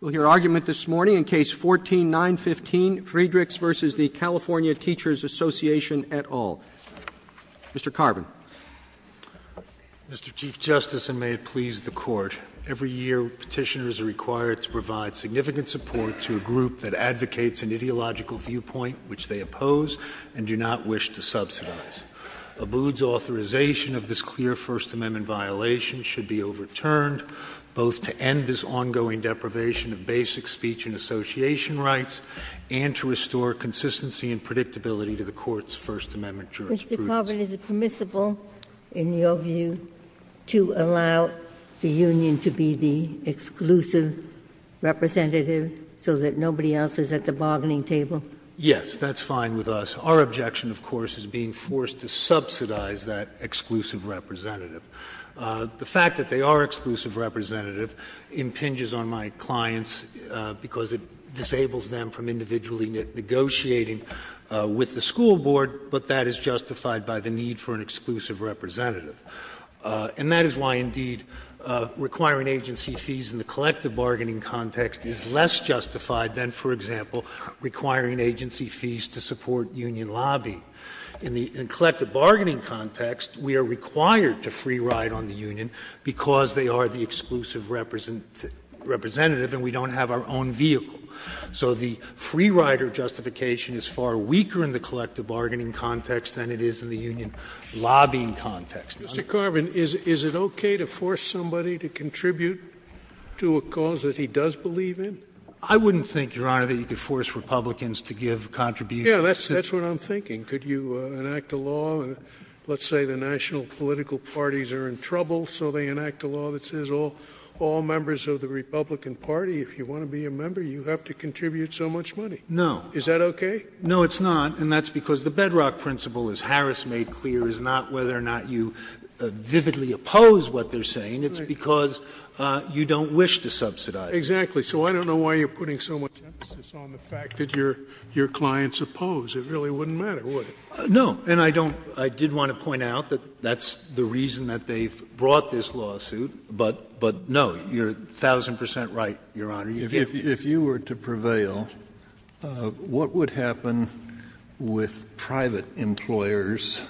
We'll hear argument this morning in Case 14-915, Friedrichs v. the California Teachers Association et al. Mr. Carvin. Mr. Chief Justice, and may it please the Court, every year petitioners are required to provide significant support to a group that advocates an ideological viewpoint which they oppose and do not wish to subsidize. Abood's authorization of this clear First Amendment violation should be overturned, both to end this ongoing deprivation of basic speech and association rights, and to restore consistency and predictability to the Court's First Amendment jurisprudence. Mr. Carvin, is it permissible, in your view, to allow the union to be the exclusive representative so that nobody else is at the bargaining table? Yes, that's fine with us. Our objection, of course, is being forced to subsidize that exclusive representative. The fact that they are exclusive representative impinges on my clients because it disables them from individually negotiating with the school board, but that is justified by the need for an exclusive representative. And that is why, indeed, requiring agency fees in the collective bargaining context is less justified than, for example, requiring agency fees to support union lobbying. In the collective bargaining context, we are required to free ride on the union because they are the exclusive representative and we don't have our own vehicle. So the free rider justification is far weaker in the collective bargaining context than it is in the union lobbying context. Mr. Carvin, is it okay to force somebody to contribute to a cause that he does believe in? I wouldn't think, Your Honor, that you could force Republicans to give contributions. Yeah, that's what I'm thinking. Could you enact a law, let's say the national political parties are in trouble, so they enact a law that says all members of the Republican Party, if you want to be a member, you have to contribute so much money? No. Is that okay? No, it's not, and that's because the bedrock principle, as Harris made clear, is not whether or not you vividly oppose what they're saying. It's because you don't wish to subsidize. Exactly. So I don't know why you're putting so much emphasis on the fact that your clients oppose. It really wouldn't matter, would it? No, and I did want to point out that that's the reason that they brought this lawsuit, but no, you're a thousand percent right, Your Honor. If you were to prevail, what would happen with private employers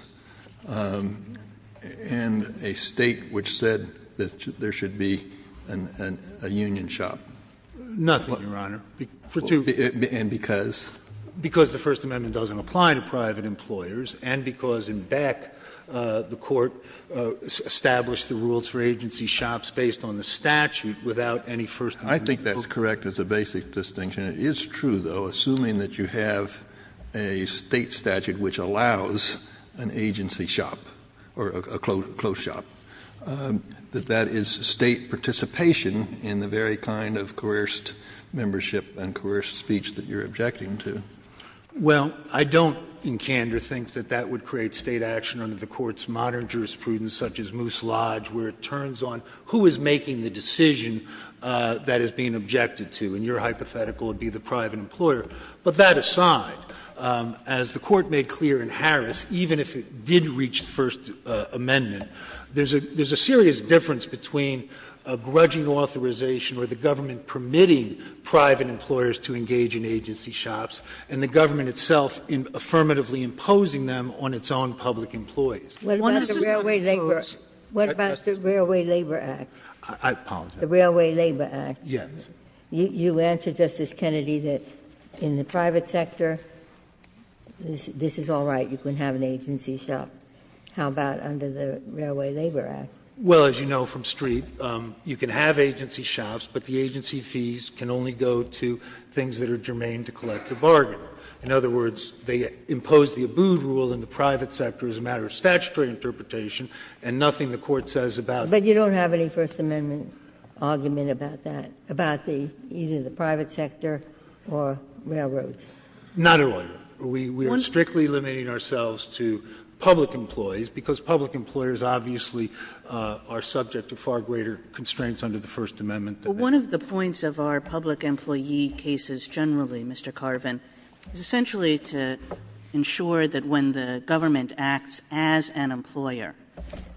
and a State which said that there should be a union shop? Nothing, Your Honor. And because? Because the First Amendment doesn't apply to private employers, and because in Beck, the court established the rules for agency shops based on the statute without any First Amendment rules. Well, I don't, in candor, think that that would create State action under the court's modern jurisprudence, such as Moose Lodge, where it turns on who is making the decision that is being objected to, and your hypothetical would be the private employer. But that aside, as the court made clear in Harris, even if it did reach First Amendment, there's a serious difference between a grudging authorization or the government permitting private employers to engage in agency shops, and the government itself affirmatively imposing them on its own public employees. What about the Railway Labor Act? I apologize. The Railway Labor Act? Yes. You answer, Justice Kennedy, that in the private sector, this is all right, you can have an agency shop. How about under the Railway Labor Act? Well, as you know from Streep, you can have agency shops, but the agency fees can only go to things that are germane to collective bargaining. In other words, they impose the ABU rule in the private sector as a matter of statutory interpretation, and nothing the court says about that. Is there a First Amendment argument about that, about either the private sector or railroads? Not at all. We are strictly limiting ourselves to public employees, because public employers obviously are subject to far greater constraints under the First Amendment. Well, one of the points of our public employee cases generally, Mr. Carvin, is essentially to ensure that when the government acts as an employer,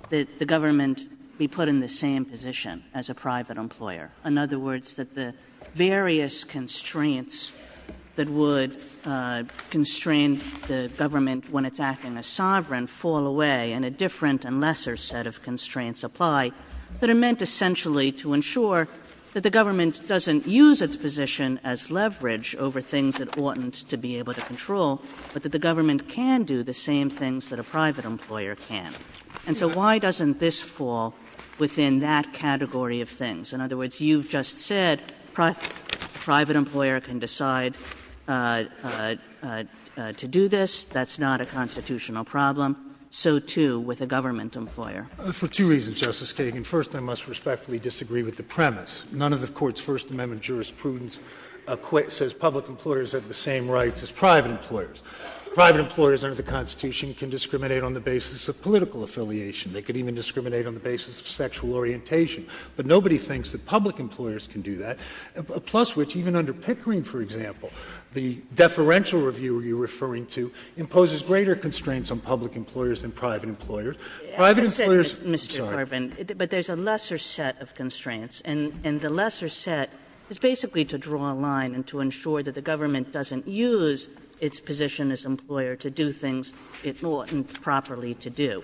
that the government be put in the same position as a private employer. In other words, that the various constraints that would constrain the government when it's acting as sovereign fall away, and a different and lesser set of constraints apply, but are meant essentially to ensure that the government doesn't use its position as leverage over things it oughtn't to be able to control, but that the government can do the same things that a private employer can. And so why doesn't this fall within that category of things? In other words, you just said a private employer can decide to do this. That's not a constitutional problem. So, too, with a government employer. For two reasons, Justice Kagan. First, I must respectfully disagree with the premise. None of the Court's First Amendment jurisprudence says public employers have the same rights as private employers. Private employers under the Constitution can discriminate on the basis of political affiliation. They can even discriminate on the basis of sexual orientation. But nobody thinks that public employers can do that. Plus, which even under Pickering, for example, the deferential review you're referring to imposes greater constraints on public employers than private employers. Private employers — I said, Mr. Berbin, but there's a lesser set of constraints. And the lesser set is basically to draw a line and to ensure that the government doesn't use its position as employer to do things it oughtn't properly to do.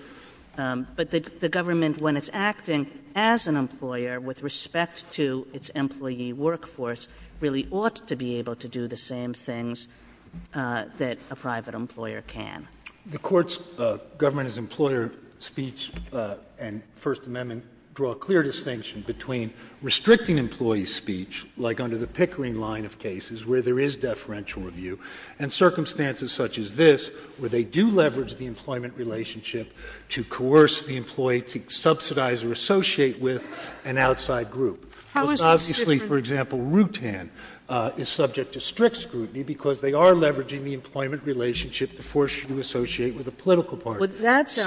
But the government, when it's acting as an employer with respect to its employee workforce, really ought to be able to do the same things that a private employer can. The Court's government-as-employer speech and First Amendment draw a clear distinction between restricting employee speech, like under the Pickering line of cases where there is deferential review, and circumstances such as this, where they do leverage the employment relationship to coerce the employee to subsidize or associate with an outside group. Obviously, for example, Rutan is subject to strict scrutiny because they are leveraging the employment relationship to force you to associate with a political party. Well, that's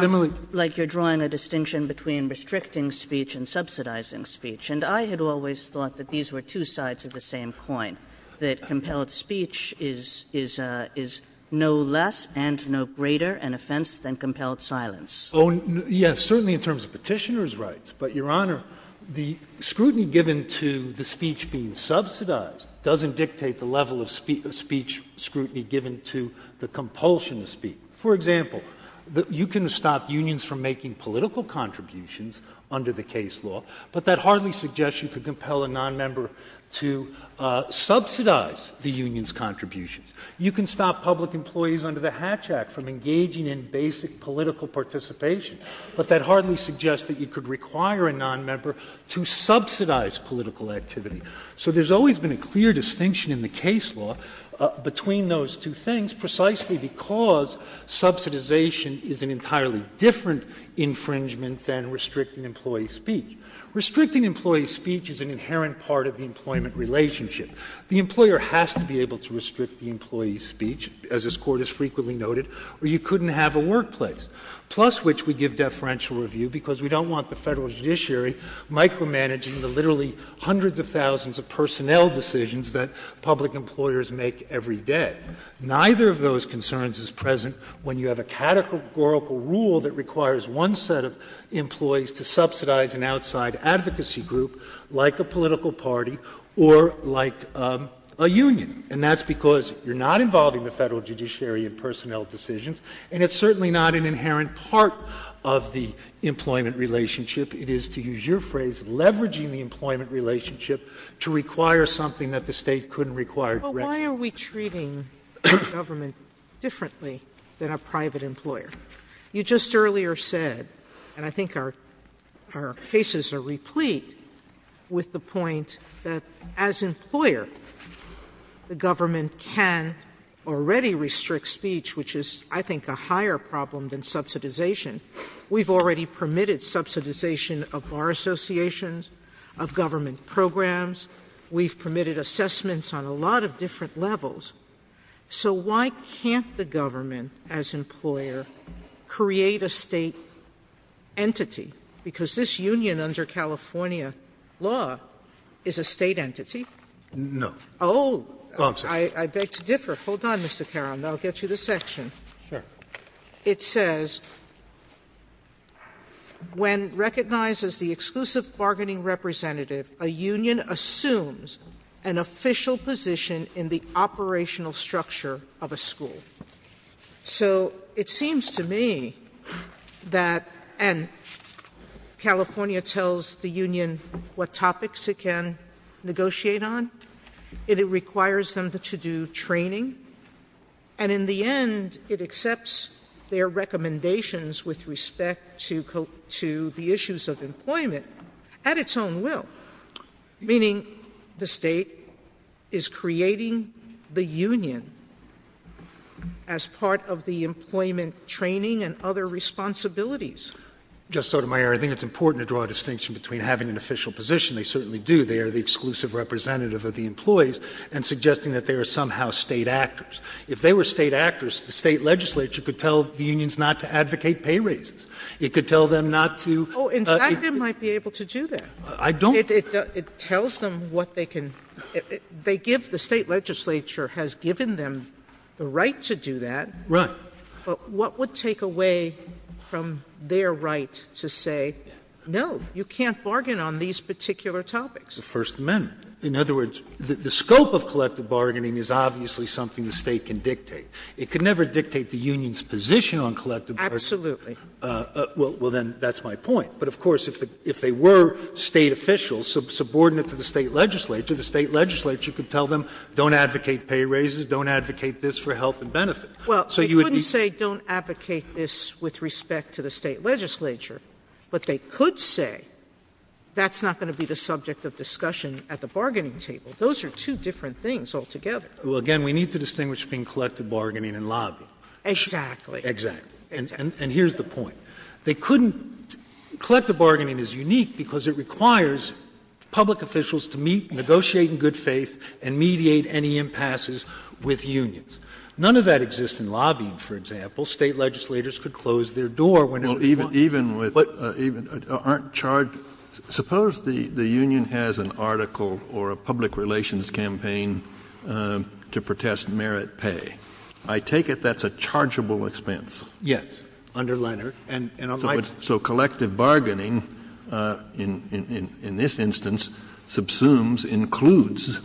like you're drawing a distinction between restricting speech and subsidizing speech. And I had always thought that these were two sides of the same coin, that compelled speech is no less and no greater an offense than compelled silence. Oh, yes, certainly in terms of petitioner's rights. But, Your Honor, the scrutiny given to the speech being subsidized doesn't dictate the level of speech scrutiny given to the compulsion of speech. For example, you can stop unions from making political contributions under the case law, but that hardly suggests you could compel a nonmember to subsidize the union's contributions. You can stop public employees under the Hatch Act from engaging in basic political participation, but that hardly suggests that you could require a nonmember to subsidize political activity. So there's always been a clear distinction in the case law between those two things, precisely because subsidization is an entirely different infringement than restricting employee speech. Restricting employee speech is an inherent part of the employment relationship. The employer has to be able to restrict the employee's speech, as this Court has frequently noted, or you couldn't have a workplace, plus which we give deferential review because we don't want the federal judiciary micromanaging the literally hundreds of thousands of personnel decisions that public employers make every day. Neither of those concerns is present when you have a categorical rule that requires one set of employees to subsidize an outside advocacy group, like a political party, or like a union. And that's because you're not involving the federal judiciary in personnel decisions, and it's certainly not an inherent part of the employment relationship. It is, to use your phrase, leveraging the employment relationship to require something that the state couldn't require directly. But why are we treating the government differently than a private employer? You just earlier said, and I think our cases are replete with the point that, as employer, the government can already restrict speech, which is, I think, a higher problem than subsidization. We've already permitted subsidization of our associations, of government programs. We've permitted assessments on a lot of different levels. So why can't the government, as employer, create a state entity? Because this union under California law is a state entity. No. Oh, I beg to differ. Hold on, Mr. Carroll, and I'll get you to section. Sure. It says, when recognized as the exclusive bargaining representative, a union assumes an official position in the operational structure of a school. So it seems to me that California tells the union what topics it can negotiate on. It requires them to do training. And in the end, it accepts their recommendations with respect to the issues of employment at its own will, meaning the state is creating the union as part of the employment training and other responsibilities. Justice Sotomayor, I think it's important to draw a distinction between having an official position, they certainly do, they are the exclusive representative of the employees, and suggesting that they are somehow state actors. If they were state actors, the state legislature could tell the unions not to advocate pay raises. It could tell them not to do that. Oh, in fact, it might be able to do that. I don't. It tells them what they can — they give — the state legislature has given them the right to do that. Right. But what would take away from their right to say, no, you can't bargain on these particular topics? The First Amendment. In other words, the scope of collective bargaining is obviously something the state can dictate. It could never dictate the union's position on collective bargaining. Absolutely. Well, then, that's my point. But, of course, if they were state officials, subordinate to the state legislature, the state legislature could tell them, don't advocate pay raises, don't advocate this for health and benefit. Well, they couldn't say, don't advocate this with respect to the state legislature. But they could say, that's not going to be the subject of discussion at the bargaining table. Those are two different things altogether. Well, again, we need to distinguish between collective bargaining and lobbying. Exactly. Exactly. And here's the point. They couldn't — collective bargaining is unique because it requires public officials to meet, negotiate in good faith, and mediate any impasses with unions. None of that exists in lobbying, for example. State legislators could close their door. Even with — aren't charged — suppose the union has an article or a public relations campaign to protest merit pay. I take it that's a chargeable expense. Yes, under Leonard. So collective bargaining, in this instance, subsumes, includes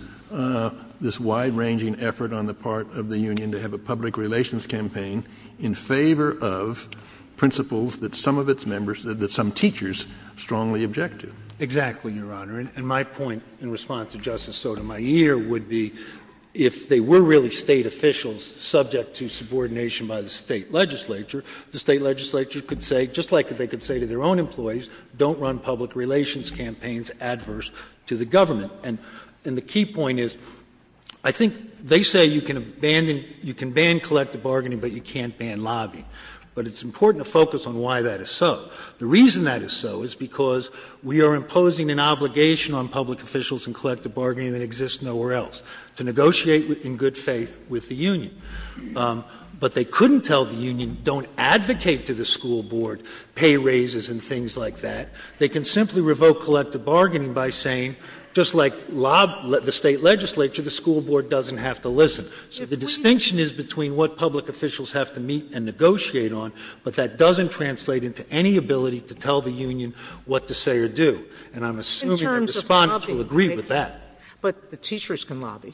this wide-ranging effort on the part of the union to have a public relations campaign in favor of principles that some of its members — that some teachers strongly object to. Exactly, Your Honor. And my point in response to Justice Sotomayor would be, if they were really state officials subject to subordination by the state legislature, the state legislature could say, just like they could say to their own employees, don't run public relations campaigns adverse to the government. And the key point is, I think they say you can abandon — you can ban collective bargaining, but you can't ban lobbying. But it's important to focus on why that is so. The reason that is so is because we are imposing an obligation on public officials in collective bargaining that exists nowhere else, to negotiate in good faith with the union. But they couldn't tell the union, don't advocate to the school board, pay raises and things like that. They can simply revoke collective bargaining by saying, just like the state legislature, the school board doesn't have to listen. So the distinction is between what public officials have to meet and negotiate on, but that doesn't translate into any ability to tell the union what to say or do. And I'm assuming the Respondents will agree with that. But the teachers can lobby.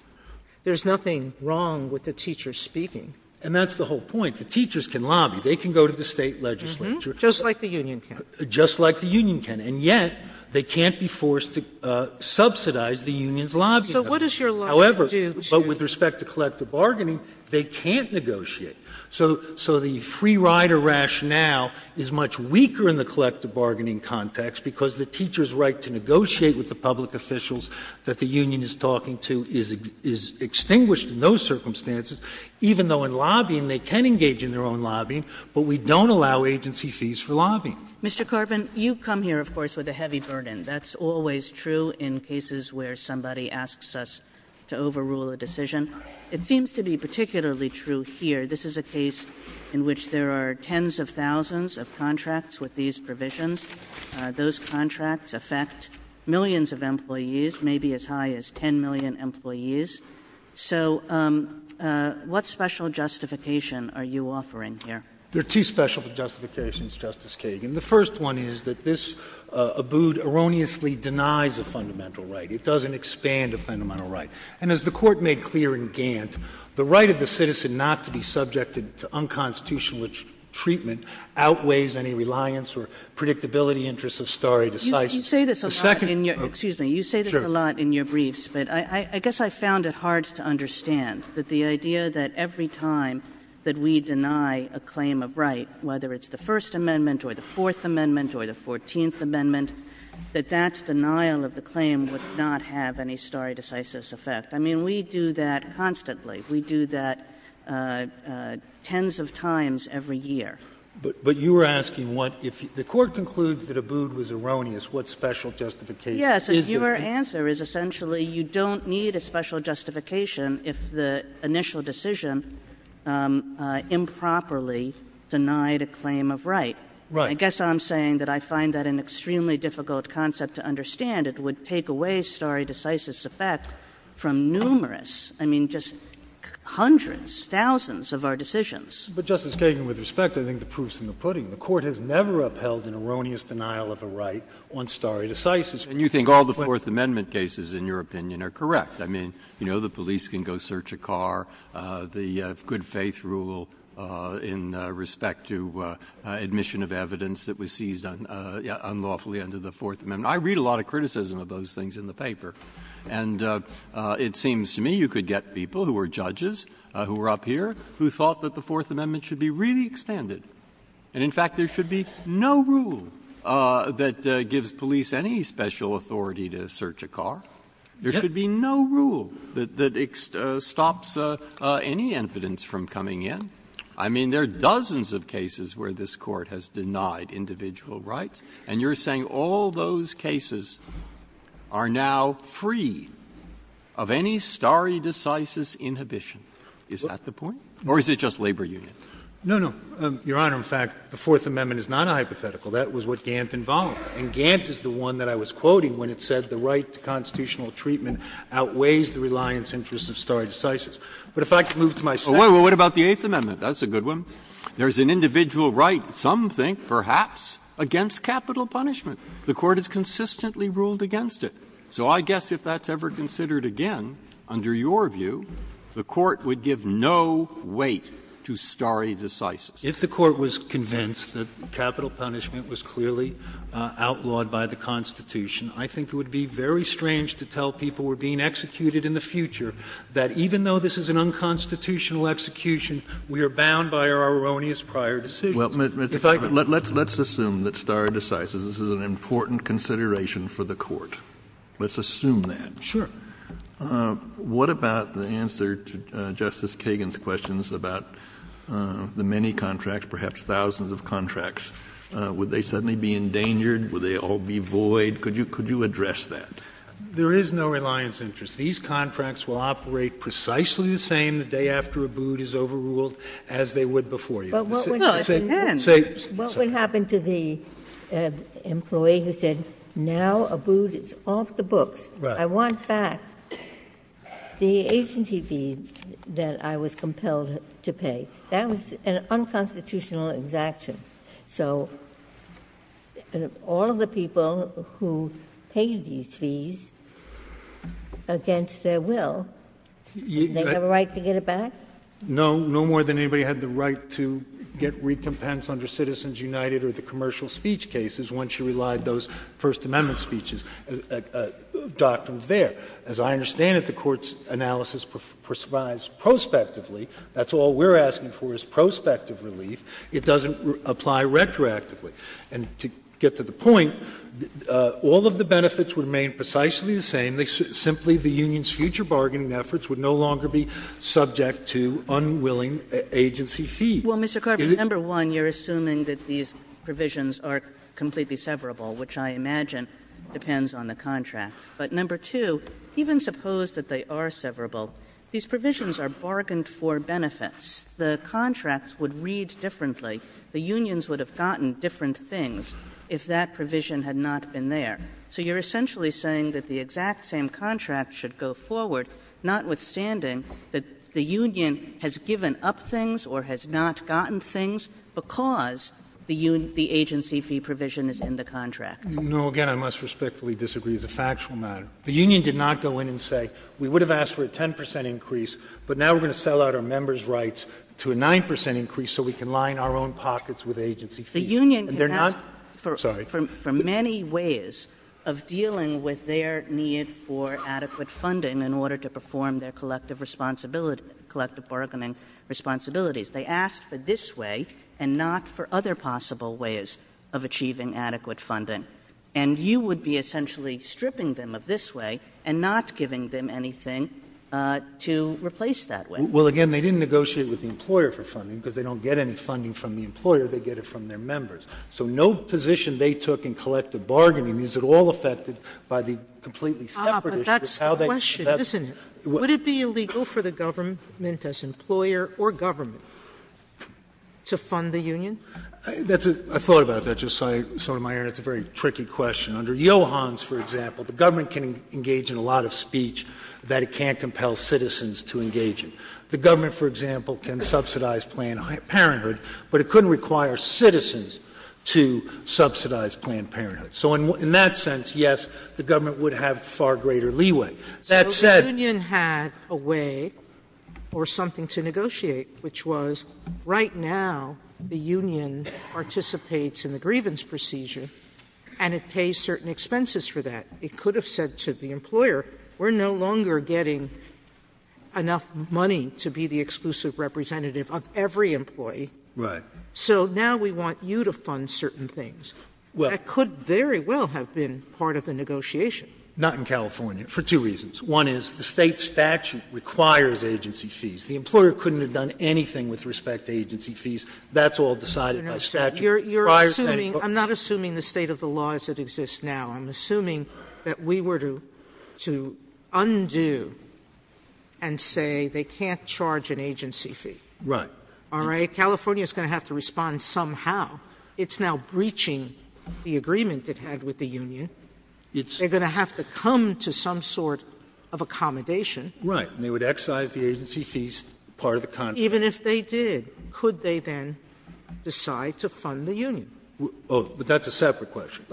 There's nothing wrong with the teachers speaking. And that's the whole point. The teachers can lobby. They can go to the state legislature. Just like the union can. Just like the union can. And yet, they can't be forced to subsidize the union's lobbying. So what does your lobby do? However, with respect to collective bargaining, they can't negotiate. So the free rider rationale is much weaker in the collective bargaining context because the teacher's right to negotiate with the public officials that the union is talking to is extinguished in those circumstances, even though in lobbying they can engage in their own lobbying, but we don't allow agency fees for lobbying. Mr. Corbin, you've come here, of course, with a heavy burden. That's always true in cases where somebody asks us to overrule a decision. It seems to be particularly true here. This is a case in which there are tens of thousands of contracts with these provisions. Those contracts affect millions of employees, maybe as high as 10 million employees. So what special justification are you offering here? There are two special justifications, Justice Kagan. The first one is that this abode erroneously denies a fundamental right. It doesn't expand a fundamental right. And as the Court made clear in Gantt, the right of the citizen not to be subjected to unconstitutional treatment outweighs any reliance or predictability interests of stare decisis. You say this a lot in your briefs, but I guess I found it hard to understand that the idea that every time that we deny a claim of right, whether it's the First Amendment or the Fourth Amendment or the Fourteenth Amendment, that that denial of the claim would not have any stare decisis effect. I mean, we do that constantly. We do that tens of times every year. But you were asking what if the Court concludes that abode was erroneous, what special justification is there? Yes. Your answer is essentially you don't need a special justification if the initial decision improperly denied a claim of right. Right. I guess I'm saying that I find that an extremely difficult concept to understand. It would take away stare decisis effect from numerous, I mean, just hundreds, thousands of our decisions. But, Justice Kagan, with respect, I think the proof's in the pudding. The Court has never upheld an erroneous denial of a right on stare decisis. And you think all the Fourth Amendment cases, in your opinion, are correct. I mean, you know, the police can go search a car. The good faith rule in respect to admission of evidence that was seized unlawfully under the Fourth Amendment. I read a lot of criticism of those things in the paper. And it seems to me you could get people who were judges, who were up here, who thought that the Fourth Amendment should be really extended. And, in fact, there should be no rule that gives police any special authority to search a car. There should be no rule that stops any evidence from coming in. I mean, there are dozens of cases where this Court has denied individual rights. And you're saying all those cases are now free of any stare decisis inhibition. Is that the point? Or is it just labor union? No, no. Your Honor, in fact, the Fourth Amendment is not a hypothetical. That was what Gantt involved. And Gantt is the one that I was quoting when it said the right to constitutional treatment outweighs the reliance interests of stare decisis. But if I could move to my second point. Well, what about the Eighth Amendment? That's a good one. There's an individual right. Some think, perhaps, against capital punishment. The Court has consistently ruled against it. So I guess if that's ever considered again, under your view, the Court would give no weight to stare decisis. If the Court was convinced that capital punishment was clearly outlawed by the Constitution, I think it would be very strange to tell people who are being executed in the future that even though this is an unconstitutional execution, we are bound by our erroneous prior decisions. Well, let's assume that stare decisis is an important consideration for the Court. Let's assume that. Sure. What about the answer to Justice Kagan's questions about the many contracts, perhaps thousands of contracts? Would they suddenly be endangered? Would they all be void? Could you address that? There is no reliance interest. These contracts will operate precisely the same the day after a boot is overruled as they would before. What would happen to the employee who said, now a boot is off the books. I want back the agency fees that I was compelled to pay. That was an unconstitutional exaction. So all of the people who paid these fees against their will, they have a right to get it back? No. No more than anybody had the right to get recompense under Citizens United or the commercial speech cases once you relied those First Amendment speeches, doctrines there. As I understand it, the Court's analysis prescribes prospectively. That's all we're asking for is prospective relief. It doesn't apply retroactively. And to get to the point, all of the benefits remain precisely the same. And simply the union's future bargaining efforts would no longer be subject to unwilling agency fees. Well, Mr. Carvin, number one, you're assuming that these provisions are completely severable, which I imagine depends on the contract. But number two, even suppose that they are severable, these provisions are bargained for benefits. The contracts would read differently. The unions would have gotten different things if that provision had not been there. So you're essentially saying that the exact same contract should go forward, notwithstanding that the union has given up things or has not gotten things because the agency fee provision is in the contract. No. Again, I must respectfully disagree with the factual matter. The union did not go in and say we would have asked for a 10 percent increase, but now we're going to sell out our members' rights to a 9 percent increase so we can line our own pockets with agency fees. The union can ask for many ways of dealing with their need for adequate funding in order to perform their collective bargaining responsibilities. They asked for this way and not for other possible ways of achieving adequate funding. And you would be essentially stripping them of this way and not giving them anything to replace that way. Well, again, they didn't negotiate with the employer for funding because they don't get any funding from the employer. They get it from their members. So no position they took in collective bargaining is at all affected by the completely separate issue. Ah, but that's the question, isn't it? Would it be illegal for the government, as employer or government, to fund the union? I thought about that just now, Sotomayor, and it's a very tricky question. Under Johans, for example, the government can engage in a lot of speech that it can't compel citizens to engage in. The government, for example, can subsidize Planned Parenthood, but it couldn't require citizens to subsidize Planned Parenthood. So in that sense, yes, the government would have far greater leeway. So the union had a way or something to negotiate, which was right now the union participates in the grievance procedure and it pays certain expenses for that. It could have said to the employer, we're no longer getting enough money to be the exclusive representative of every employee. So now we want you to fund certain things. That could very well have been part of the negotiation. Not in California, for two reasons. One is the state statute requires agency fees. The employer couldn't have done anything with respect to agency fees. That's all decided by statute. I'm not assuming the state of the law as it exists now. I'm assuming that we were to undo and say they can't charge an agency fee. Right. All right? California is going to have to respond somehow. It's now breaching the agreement it had with the union. They're going to have to come to some sort of accommodation. Right. And they would excise the agency fees part of the contract. Even if they did, could they then decide to fund the union? Oh, but that's a separate question.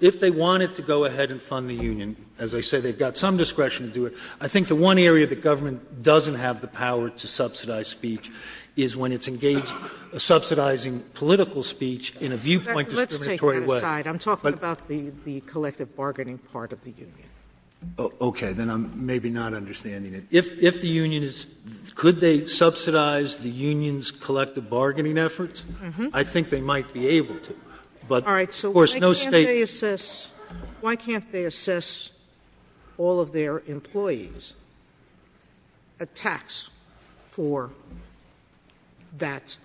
If they wanted to go ahead and fund the union, as I said, they've got some discretion to do it. I think the one area the government doesn't have the power to subsidize speech is when it's engaged subsidizing political speech in a viewpoint discriminatory way. I'm talking about the collective bargaining part of the union. Okay. Then I'm maybe not understanding it. If the union is – could they subsidize the union's collective bargaining efforts? I think they might be able to. All right. So why can't they assess all of their employees' attacks for that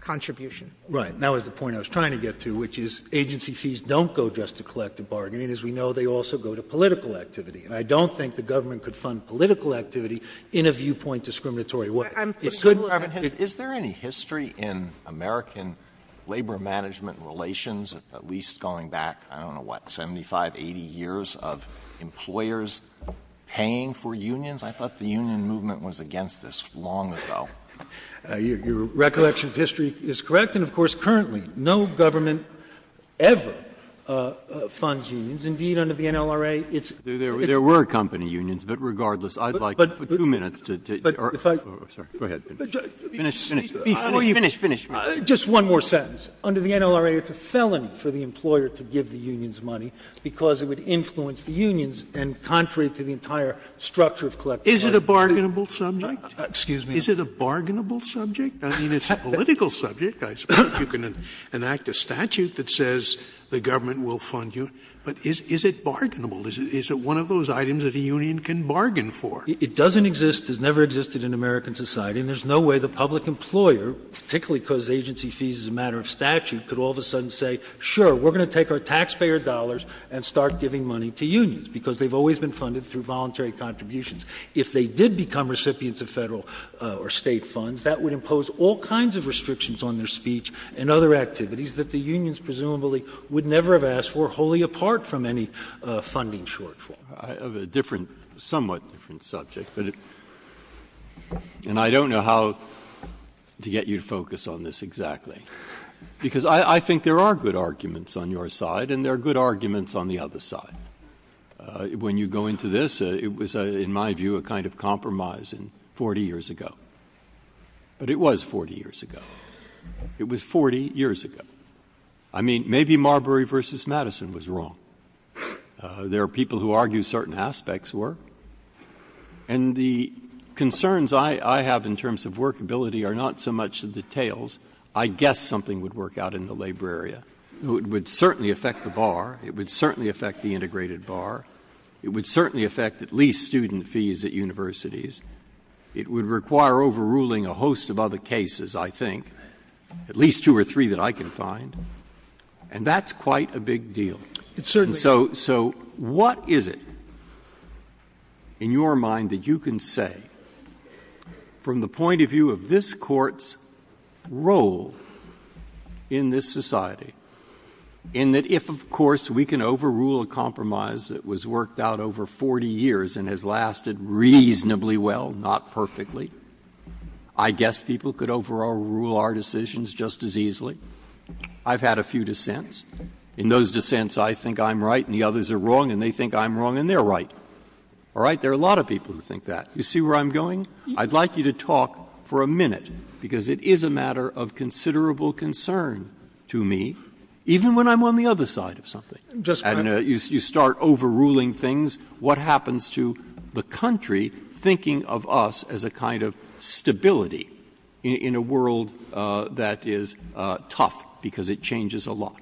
contribution? Right. That was the point I was trying to get to, which is agency fees don't go just to collective bargaining. As we know, they also go to political activity. And I don't think the government could fund political activity in a viewpoint discriminatory way. Is there any history in American labor management relations, at least going back, I don't know what, 75, 80 years of employers paying for unions? I thought the union movement was against this long ago. Your recollection of history is correct. And, of course, currently no government ever funds unions. Indeed, under the NLRA, it's – There were company unions, but regardless, I'd like two minutes to – Go ahead. Finish, finish. Just one more sentence. Under the NLRA, it's a felony for the employer to give the unions money because it would influence the unions and contrary to the entire structure of collective bargaining. Is it a bargainable subject? Excuse me. Is it a bargainable subject? I mean, it's a political subject. I suppose you can enact a statute that says the government will fund you. But is it bargainable? Is it one of those items that a union can bargain for? It doesn't exist. It's never existed in American society. And there's no way the public employer, particularly because agency fees is a matter of statute, could all of a sudden say, sure, we're going to take our taxpayer dollars and start giving money to unions because they've always been funded through voluntary contributions. If they did become recipients of federal or state funds, that would impose all kinds of restrictions on their speech and other activities that the unions presumably would never have asked for wholly apart from any funding shortfall. I have a different – somewhat different subject, and I don't know how to get you to focus on this exactly. Because I think there are good arguments on your side, and there are good arguments on the other side. When you go into this, it was, in my view, a kind of compromise 40 years ago. But it was 40 years ago. It was 40 years ago. I mean, maybe Marbury versus Madison was wrong. There are people who argue certain aspects were. And the concerns I have in terms of workability are not so much the details. I guess something would work out in the labor area. It would certainly affect the bar. It would certainly affect the integrated bar. It would certainly affect at least student fees at universities. It would require overruling a host of other cases, I think, at least two or three that I can find. And that's quite a big deal. So what is it in your mind that you can say, from the point of view of this Court's role in this society, in that if, of course, we can overrule a compromise that was worked out over 40 years and has lasted reasonably well, not perfectly, I guess people could overrule our decisions just as easily. I've had a few dissents. In those dissents, I think I'm right, and the others are wrong, and they think I'm wrong, and they're right. All right? There are a lot of people who think that. You see where I'm going? I'd like you to talk for a minute, because it is a matter of considerable concern to me, even when I'm on the other side of something. You start overruling things. What happens to the country thinking of us as a kind of stability in a world that is tough, because it changes a lot?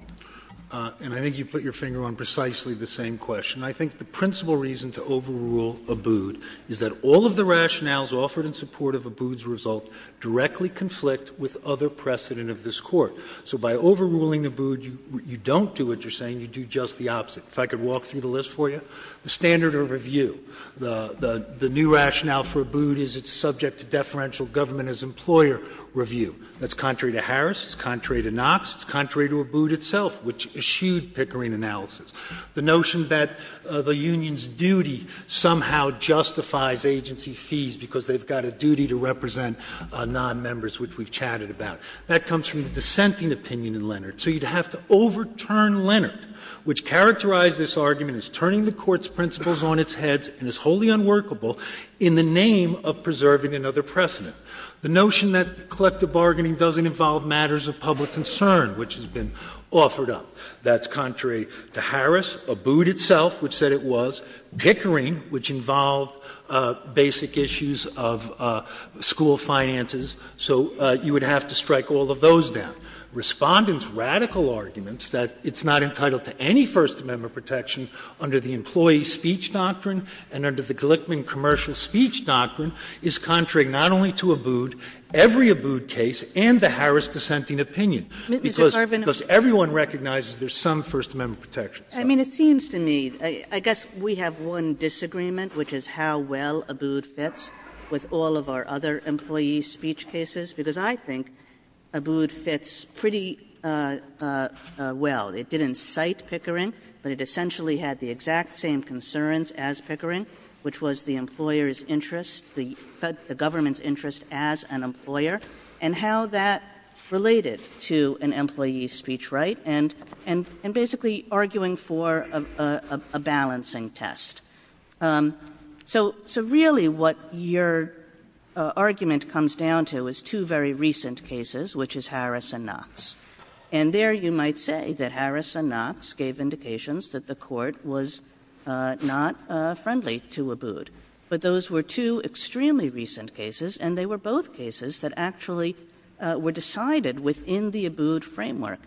And I think you put your finger on precisely the same question. I think the principal reason to overrule Abood is that all of the rationales offered in support of Abood's result directly conflict with other precedent of this Court. So by overruling Abood, you don't do what you're saying, you do just the opposite. If I could walk through the list for you. The standard of review, the new rationale for Abood is it's subject to deferential government as employer review. That's contrary to Harris. It's contrary to Knox. It's contrary to Abood itself, which eschewed Pickering analysis. The notion that the union's duty somehow justifies agency fees, because they've got a duty to represent nonmembers, which we've chatted about. That comes from dissenting opinion in Leonard. So you'd have to overturn Leonard, which characterized this argument as turning the Court's principles on its head and is wholly unworkable in the name of preserving another precedent. The notion that collective bargaining doesn't involve matters of public concern, which has been offered up. That's contrary to Harris. Abood itself, which said it was. Pickering, which involved basic issues of school finances. So you would have to strike all of those down. Respondent's radical arguments that it's not entitled to any First Amendment protection under the employee speech doctrine and under the Glickman commercial speech doctrine is contrary not only to Abood, every Abood case and the Harris dissenting opinion. Because everyone recognizes there's some First Amendment protection. I mean, it seems to me, I guess we have one disagreement, which is how well Abood fits with all of our other employee speech cases, because I think Abood fits pretty well. It didn't cite Pickering, but it essentially had the exact same concerns as Pickering, which was the employer's interest, the government's interest as an employer, and how that related to an employee's speech right and basically arguing for a balancing test. So really what your argument comes down to is two very recent cases, which is Harris and Knox. And there you might say that Harris and Knox gave indications that the court was not friendly to Abood. But those were two extremely recent cases, and they were both cases that actually were decided within the Abood framework.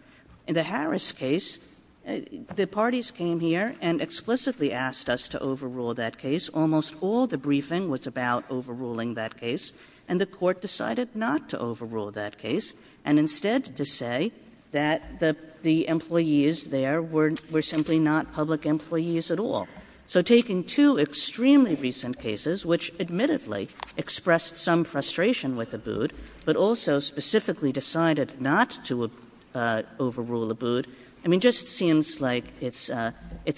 In the Harris case, the parties came here and explicitly asked us to overrule that case. Almost all the briefing was about overruling that case, and the court decided not to overrule that case and instead to say that the employees there were simply not public employees at all. So taking two extremely recent cases, which admittedly expressed some frustration with Abood, but also specifically decided not to overrule Abood, I mean, just seems like it's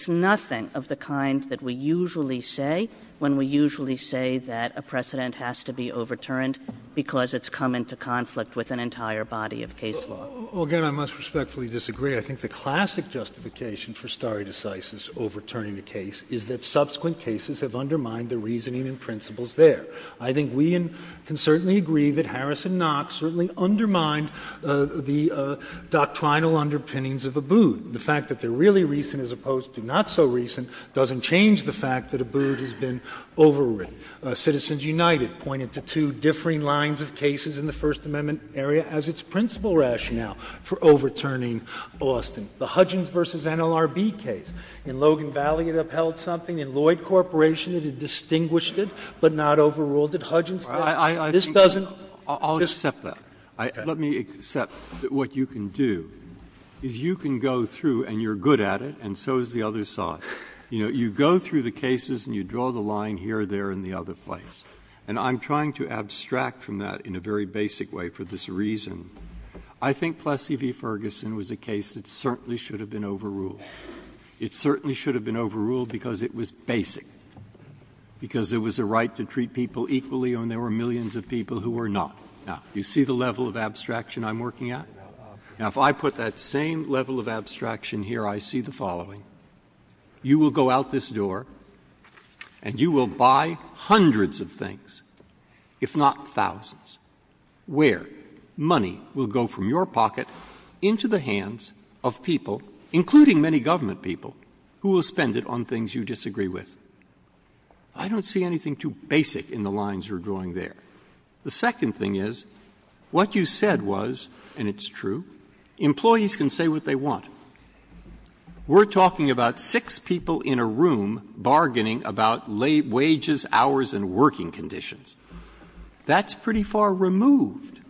nothing of the kind that we usually say when we usually say that a precedent has to be overturned because it's come into conflict with an entire body of case law. Again, I must respectfully disagree. I think the classic justification for stare decisis, overturning the case, is that subsequent cases have undermined the reasoning and principles there. I think we can certainly agree that Harris and Knox certainly undermined the doctrinal underpinnings of Abood. The fact that they're really recent as opposed to not so recent doesn't change the fact that Abood has been overwritten. Citizens United pointed to two differing lines of cases in the First Amendment area as its principal rationale for overturning Austin. The Hudgens v. NLRB case. In Logan Valley, it upheld something. In Lloyd Corporation, it distinguished it, but not overruled it. Hudgens doesn't. This doesn't. I'll accept that. Let me accept that what you can do is you can go through, and you're good at it, and so is the other side. You know, you go through the cases and you draw the line here, there, and the other place, and I'm trying to abstract from that in a very basic way for this reason. I think Plessy v. Ferguson was a case that certainly should have been overruled. It certainly should have been overruled because it was basic, because there was a right to treat people equally when there were millions of people who were not. Now, do you see the level of abstraction I'm working at? Now, if I put that same level of abstraction here, I see the following. You will go out this door, and you will buy hundreds of things, if not thousands, where money will go from your pocket into the hands of people, including many government people, who will spend it on things you disagree with. I don't see anything too basic in the lines you're drawing there. The second thing is, what you said was, and it's true, employees can say what they want. We're talking about six people in a room bargaining about wages, hours, and working conditions. That's pretty far removed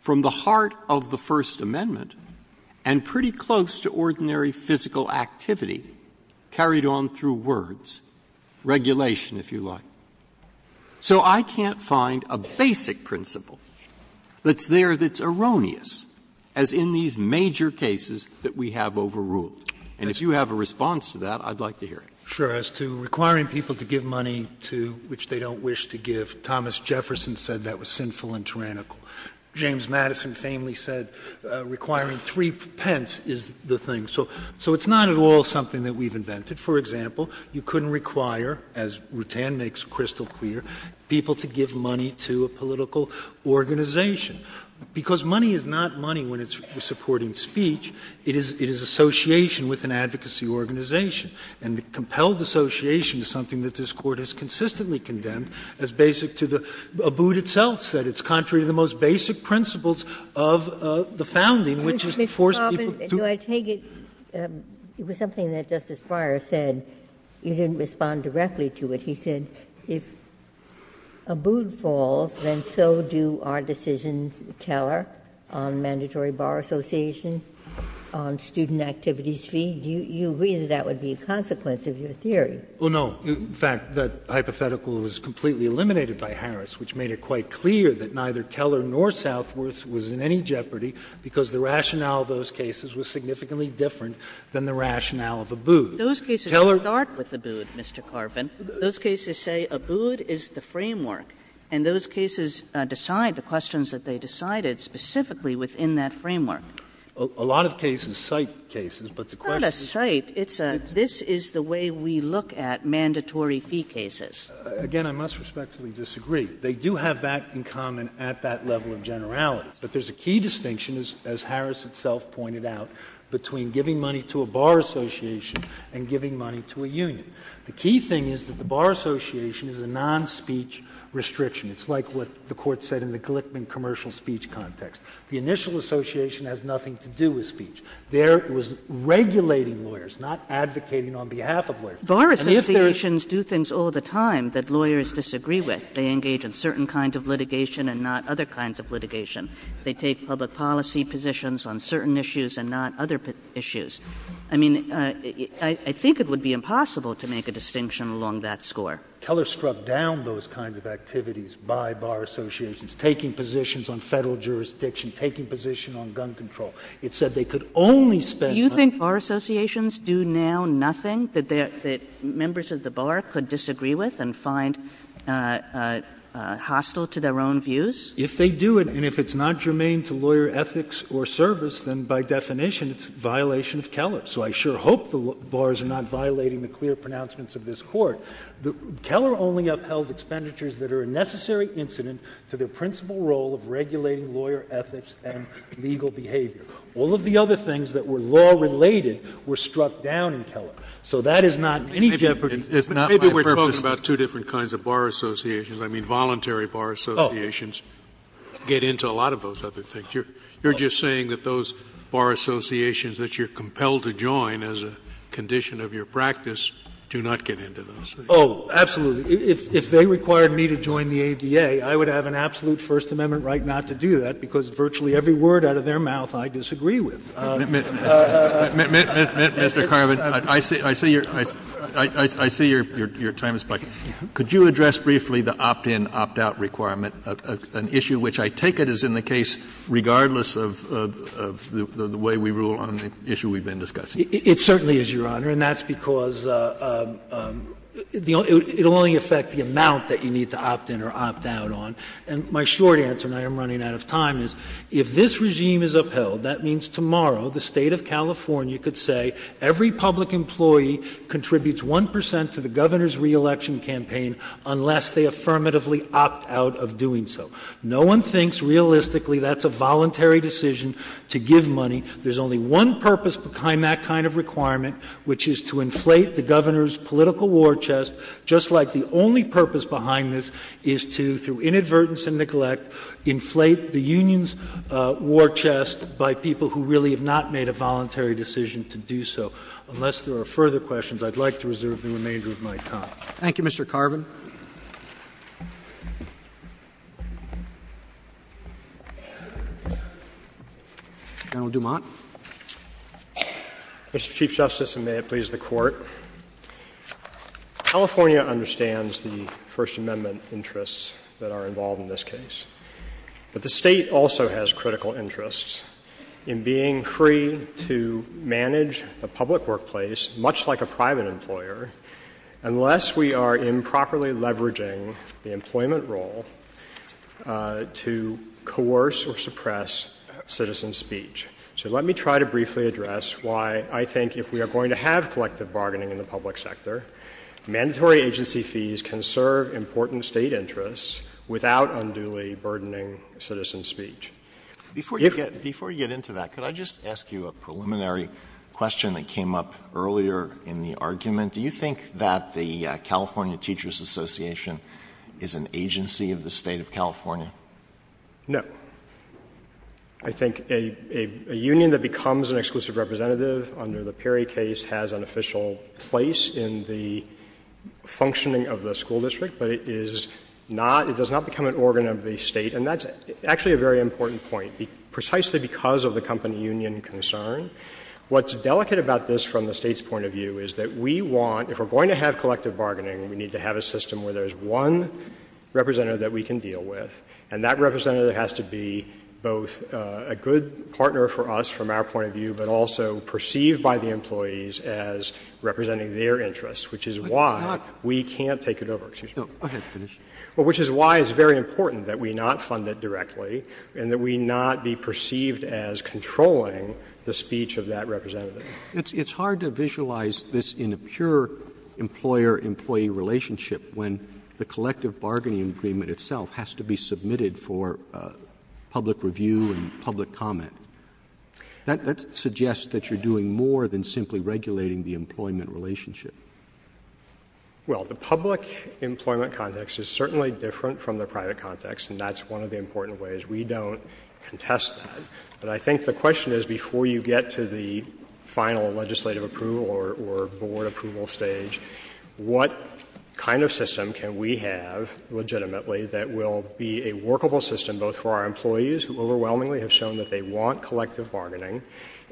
from the heart of the First Amendment and pretty close to ordinary physical activity carried on through words, regulation, if you like. So I can't find a basic principle that's there that's erroneous, as in these major cases that we have overruled. And if you have a response to that, I'd like to hear it. Sure, as to requiring people to give money to which they don't wish to give, Thomas Jefferson said that was sinful and tyrannical. James Madison famously said requiring three pence is the thing. So it's not at all something that we've invented. For example, you couldn't require, as Rutan makes crystal clear, people to give money to a political organization. Because money is not money when it's supporting speech, it is association with an advocacy organization. And the compelled association is something that this Court has consistently condemned as basic to the — Abood itself said it's contrary to the most basic principles of the founding, which is to force people to — Ms. Coffin, do I take it — it was something that Justice Breyer said. You didn't respond directly to it. He said if Abood falls, then so do our decisions, Teller, on mandatory bar associations, on student activity fees. Do you agree that that would be a consequence of your theory? Well, no. In fact, that hypothetical was completely eliminated by Harris, which made it quite clear that neither Teller nor Southworth was in any jeopardy because the rationale of those cases was significantly different than the rationale of Abood. Teller — Those cases don't start with Abood, Mr. Carvin. Those cases say Abood is the framework. And those cases decide the questions that they decided specifically within that framework. A lot of cases cite cases, but the question — It's not a cite. It's a — this is the way we look at mandatory fee cases. Again, I must respectfully disagree. They do have that in common at that level of generality. But there's a key distinction, as Harris itself pointed out, between giving money to a bar association and giving money to a union. The key thing is that the bar association is a non-speech restriction. It's like what the Court said in the Glickman commercial speech context. The initial association has nothing to do with speech. There it was regulating lawyers, not advocating on behalf of lawyers. And if there's — Bar associations do things all the time that lawyers disagree with. They engage in certain kinds of litigation and not other kinds of litigation. They take public policy positions on certain issues and not other issues. I mean, I think it would be impossible to make a distinction along that score. Teller struck down those kinds of activities by bar associations, taking positions on Federal jurisdiction, taking position on gun control. It said they could only specify — Do you think bar associations do now nothing that members of the bar could disagree with and find hostile to their own views? If they do it, and if it's not germane to lawyer ethics or service, then by definition it's a violation of Keller. So I sure hope the bars are not violating the clear pronouncements of this Court. Keller only upheld expenditures that are a necessary incident to their principal role of regulating lawyer ethics and legal behavior. All of the other things that were law-related were struck down in Keller. So that is not — Maybe we're talking about two different kinds of bar associations. I mean, voluntary bar associations get into a lot of those other things. You're just saying that those bar associations that you're compelled to join as a condition of your practice do not get into those. Oh, absolutely. If they required me to join the ADA, I would have an absolute First Amendment right not to do that, because virtually every word out of their mouth I disagree with. Mr. Carvin, I see your time is up. Could you address briefly the opt-in, opt-out requirement, an issue which I take it is in the case regardless of the way we rule on the issue we've been discussing? It certainly is, Your Honor. And that's because it will only affect the amount that you need to opt-in or opt-out on. And my short answer, and I am running out of time, is if this regime is upheld, that means tomorrow the state of California could say every public employee contributes 1 percent to the governor's reelection campaign unless they affirmatively opt out of doing so. No one thinks realistically that's a voluntary decision to give money. There's only one purpose behind that kind of requirement, which is to inflate the governor's political war chest, just like the only purpose behind this is to, through inadvertence and neglect, inflate the union's war chest by people who really have not made a voluntary decision to do so. Unless there are further questions, I'd like to reserve the remainder of my time. Thank you, Mr. Carvin. General Dumont. Mr. Chief Justice, and may it please the Court, California understands the First Amendment interests that are involved in this case. But the State also has critical interests in being free to manage the public workplace, much like a private employer, unless we are improperly leveraging the employment role to coerce or suppress citizen speech. So let me try to briefly address why I think if we are going to have collective bargaining in the public sector, mandatory agency fees can serve important State interests without unduly burdening citizen speech. Before you get into that, could I just ask you a preliminary question that came up earlier in the argument? Do you think that the California Teachers Association is an agency of the State of California? No. I think a union that becomes an exclusive representative under the Perry case has an official place in the functioning of the school district, but it is not, it does not become an organ of the State. And that's actually a very important point, precisely because of the company union concern. What's delicate about this from the State's point of view is that we want, if we're going to have collective bargaining, we need to have a system where there's one representative that we can deal with, and that representative has to be both a good partner for us from our point of view, but also perceived by the employees as representing their interests, which is why we can't take it over. Which is why it's very important that we not fund it directly and that we not be perceived as controlling the speech of that representative. It's hard to visualize this in a pure employer-employee relationship when the collective bargaining agreement itself has to be submitted for public review and public comment. That suggests that you're doing more than simply regulating the employment relationship. Well, the public employment context is certainly different from the private context, and that's one of the important ways. We don't contest that. But I think the question is, before you get to the final legislative approval or board approval stage, what kind of system can we have legitimately that will be a workable system both for our employees, who overwhelmingly have shown that they want collective bargaining,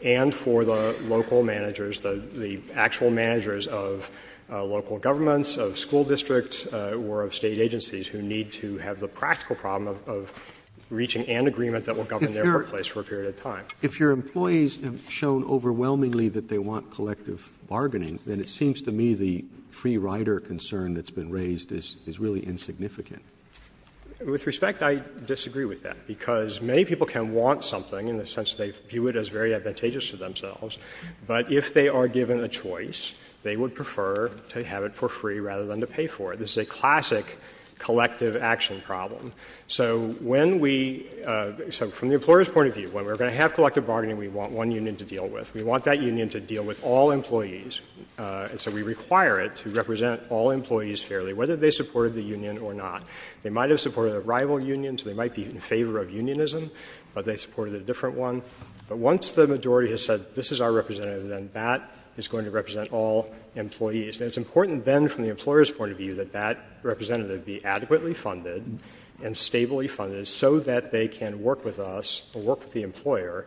and for the local managers, the actual managers of local governments, of school districts, or of state agencies who need to have the practical problem of reaching an agreement that will come into place for a period of time? If your employees have shown overwhelmingly that they want collective bargaining, then it seems to me the free rider concern that's been raised is really insignificant. With respect, I disagree with that, because many people can want something in the sense that they view it as very advantageous to themselves, but if they are given a choice, they would prefer to have it for free rather than to pay for it. This is a classic collective action problem. So, from the employer's point of view, when we're going to have collective bargaining, we want one union to deal with. We want that union to deal with all employees. And so we require it to represent all employees fairly, whether they supported the union or not. They might have supported a rival union, so they might be in favor of unionism, but they supported a different one. But once the majority has said, this is our representative, then that is going to represent all employees. And it's important, then, from the employer's point of view, that that representative be adequately funded and stably funded so that they can work with us, work with the employer,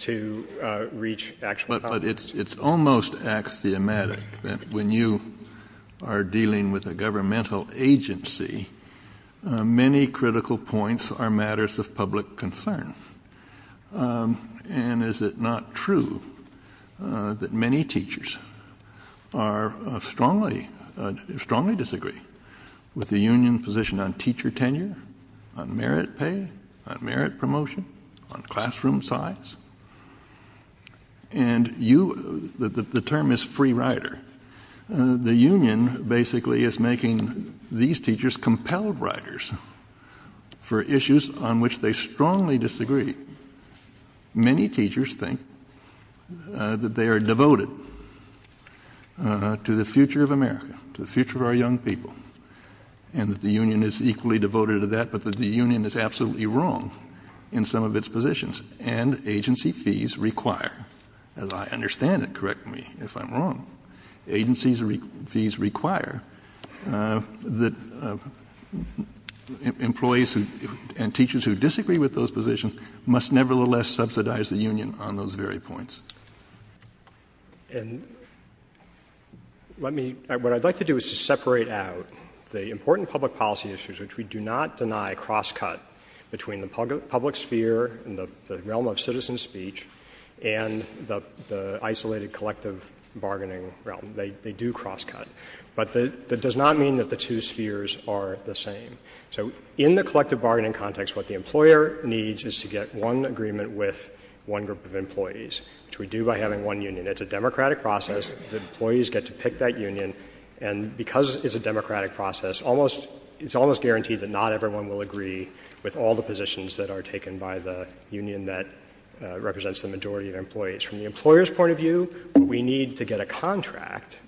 to reach action. But it's almost axiomatic that when you are dealing with a governmental agency, many critical points are matters of public concern. And is it not true that many teachers strongly disagree with the union position on teacher tenure, on merit pay, on merit promotion, on classroom size? And the term is free rider. The union basically is making these teachers compelled riders for issues on which they strongly disagree. Many teachers think that they are devoted to the future of America, to the future of our young people, and that the union is equally devoted to that, but that the union is absolutely wrong in some of its positions. And agency fees require, as I understand it, correct me if I'm wrong, agency fees require that employees and teachers who disagree with those positions must nevertheless subsidize the union on those very points. And what I'd like to do is to separate out the important public policy issues which we do not deny cross-cut between the public sphere and the realm of citizen speech and the isolated collective bargaining realm. They do cross-cut. But that does not mean that the two spheres are the same. So in the collective bargaining context, what the employer needs is to get one agreement with one group of employees, which we do by having one union. It's a democratic process. The employees get to pick that union. And because it's a democratic process, it's almost guaranteed that not everyone will agree with all the positions that are taken by the union that represents the majority of employees. From the employer's point of view, what we need to get a contract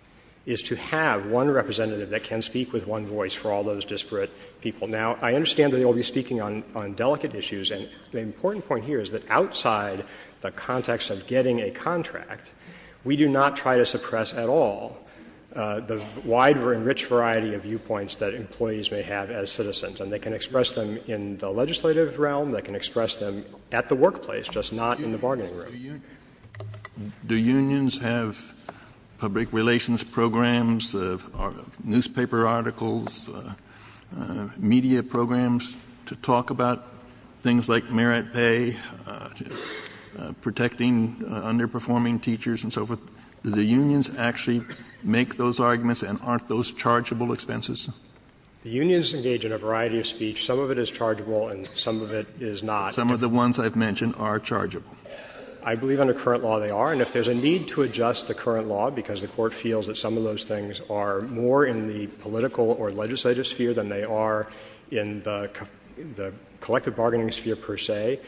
is to have one representative that can speak with one voice for all those disparate people. Now, I understand that we will be speaking on delicate issues. And the important point here is that outside the context of getting a contract, we do not try to suppress at all the wide and rich variety of viewpoints that employees may have as citizens. And they can express them in the legislative realm. They can express them at the workplace, just not in the bargaining room. Do unions have public relations programs, newspaper articles, media programs to talk about things like merit pay, protecting underperforming teachers, and so forth? Do the unions actually make those arguments, and aren't those chargeable expenses? The unions engage in a variety of speech. Some of it is chargeable, and some of it is not. Some of the ones I've mentioned are chargeable. I believe under current law they are. And if there's a need to adjust the current law, because the Court feels that some of those things are more in the political or legislative sphere than they are in the collective bargaining sphere per se,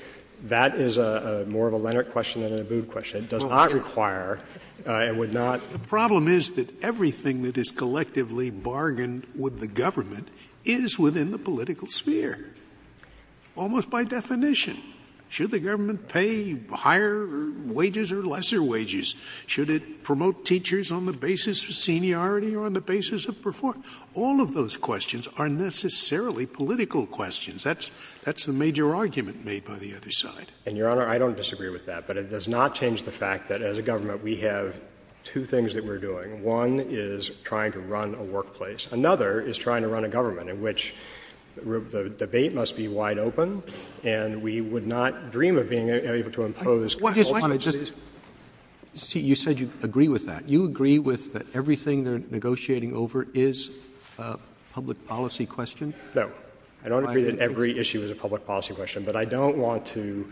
that is more of a Lennart question than a Boob question. It does not require and would not — The problem is that everything that is collectively bargained with the government is within the political sphere, almost by definition. Should the government pay higher wages or lesser wages? Should it promote teachers on the basis of seniority or on the basis of performance? All of those questions are necessarily political questions. That's the major argument made by the other side. And, Your Honor, I don't disagree with that. But it does not change the fact that as a government we have two things that we're doing. One is trying to run a workplace. Another is trying to run a government in which the debate must be wide open and we would not dream of being able to impose — Your Honor, just — you said you agree with that. You agree with that everything they're negotiating over is a public policy question? No. I don't agree that every issue is a public policy question. But I don't want to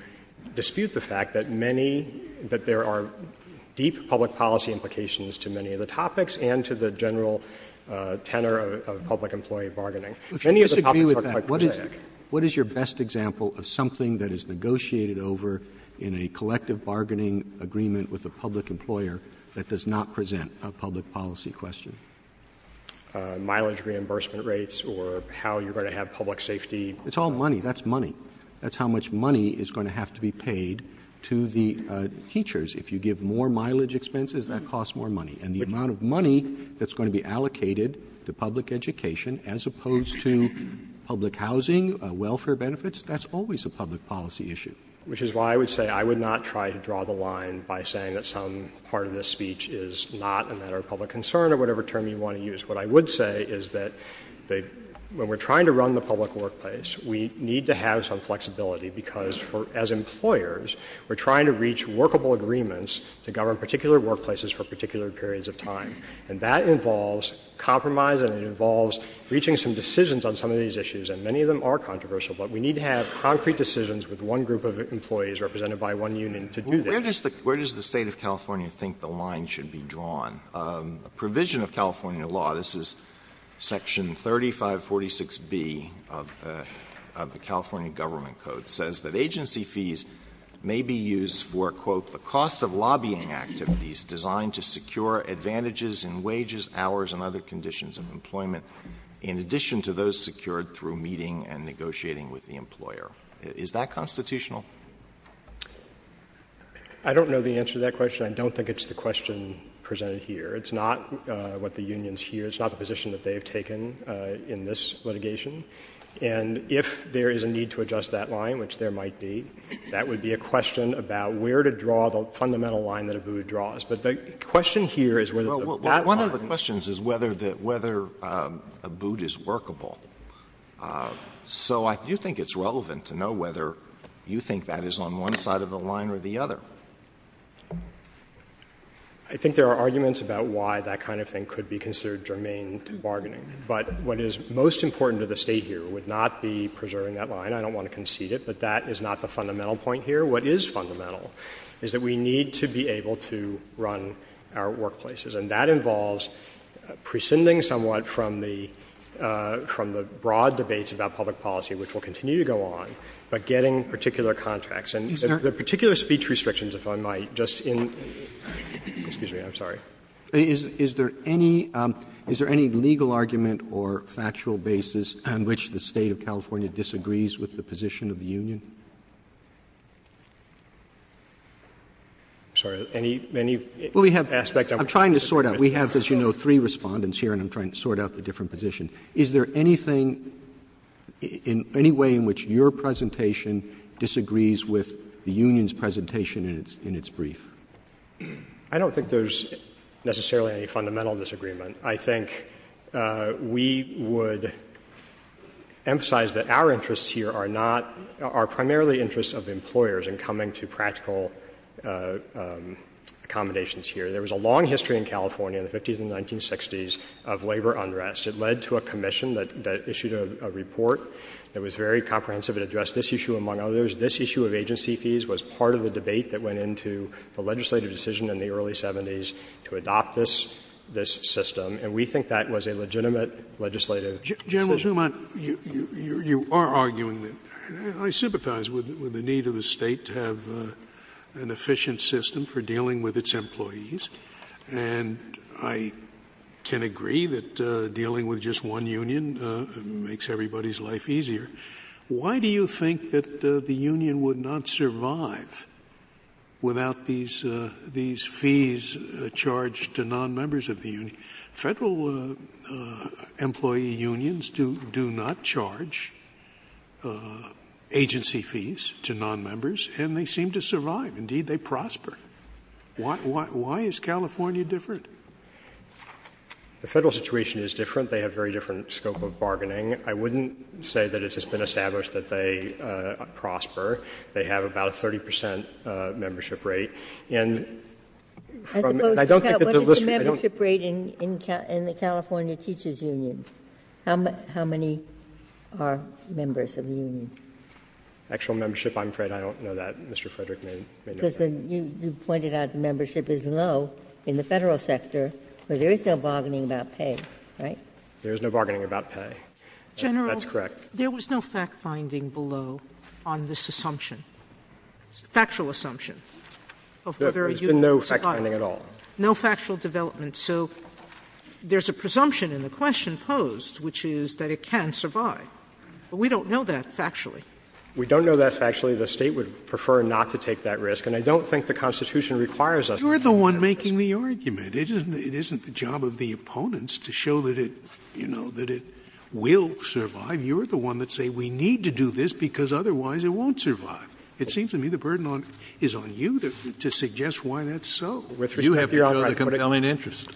dispute the fact that many — that there are deep public policy implications to many of the topics and to the general tenor of public employee bargaining. If you disagree with that, what is your best example of something that is negotiated over in a collective bargaining agreement with a public employer that does not present a public policy question? Mileage reimbursement rates or how you're going to have public safety — It's all money. That's money. That's how much money is going to have to be paid to the teachers. If you give more mileage expenses, that costs more money. And the amount of money that's going to be allocated to public education as opposed to public housing, welfare benefits, that's always a public policy issue. Which is why I would say I would not try to draw the line by saying that some part of this speech is not a matter of public concern or whatever term you want to use. What I would say is that when we're trying to run the public workplace, we need to have some flexibility because as employers, we're trying to reach workable agreements to govern particular workplaces for particular periods of time. And that involves compromise and it involves reaching some decisions on some of these issues. And many of them are controversial. But we need to have concrete decisions with one group of employees represented by one union to do this. Where does the State of California think the line should be drawn? Provision of California law, this is Section 3546B of the California Government Code, says that agency fees may be used for, quote, the cost of lobbying activities designed to secure advantages in wages, hours, and other conditions of employment in addition to those secured through meeting and negotiating with the employer. Is that constitutional? I don't know the answer to that question. I don't think it's the question presented here. It's not what the unions hear. It's not the position that they have taken in this litigation. And if there is a need to adjust that line, which there might be, that would be a question about where to draw the fundamental line that ABUD draws. But the question here is whether that line— Well, one of the questions is whether ABUD is workable. So I do think it's relevant to know whether you think that is on one side of the line or the other. I think there are arguments about why that kind of thing could be considered germane bargaining. But what is most important to the State here would not be preserving that line. I don't want to concede it, but that is not the fundamental point here. What is fundamental is that we need to be able to run our workplaces. And that involves prescinding somewhat from the broad debates about public policy, which will continue to go on, but getting particular contracts. Is there any legal argument or factual basis on which the State of California disagrees with the position of the union? I'm trying to sort out. We have, as you know, three respondents here, and I'm trying to sort out the different position. Is there anything, any way in which your presentation disagrees with the union's presentation in its brief? I don't think there's necessarily any fundamental disagreement. I think we would emphasize that our interests here are not—are primarily interests of employers in coming to practical accommodations here. There was a long history in California in the 50s and 1960s of labor unrest. It led to a commission that issued a report that was very comprehensive. It addressed this issue among others. This issue of agency fees was part of a debate that went into a legislative decision in the early 70s to adopt this system. And we think that was a legitimate legislative— General Schumann, you are arguing that. I sympathize with the need of the state to have an efficient system for dealing with its employees. And I can agree that dealing with just one union makes everybody's life easier. Why do you think that the union would not survive without these fees charged to non-members of the union? Federal employee unions do not charge agency fees to non-members, and they seem to survive. Indeed, they prosper. Why is California different? The federal situation is different. They have very different scope of bargaining. I wouldn't say that it has been established that they prosper. They have about a 30 percent membership rate. And I don't think that— What is the membership rate in the California Teachers Union? How many are members of the union? Actual membership, I'm afraid I don't know that. Mr. Frederick may know that. You pointed out membership is low in the federal sector, but there is no bargaining about pay, right? There is no bargaining about pay. That's correct. General, there was no fact-finding below on this assumption, factual assumption. There's been no fact-finding at all. No factual development. So there's a presumption in the question posed, which is that it can survive. But we don't know that factually. We don't know that factually. The State would prefer not to take that risk. And I don't think the Constitution requires us to take that risk. You're the one making the argument. It isn't the job of the opponents to show that it, you know, that it will survive. You're the one that say we need to do this because otherwise it won't survive. It seems to me the burden is on you to suggest why that's so. You have your own compelling interest.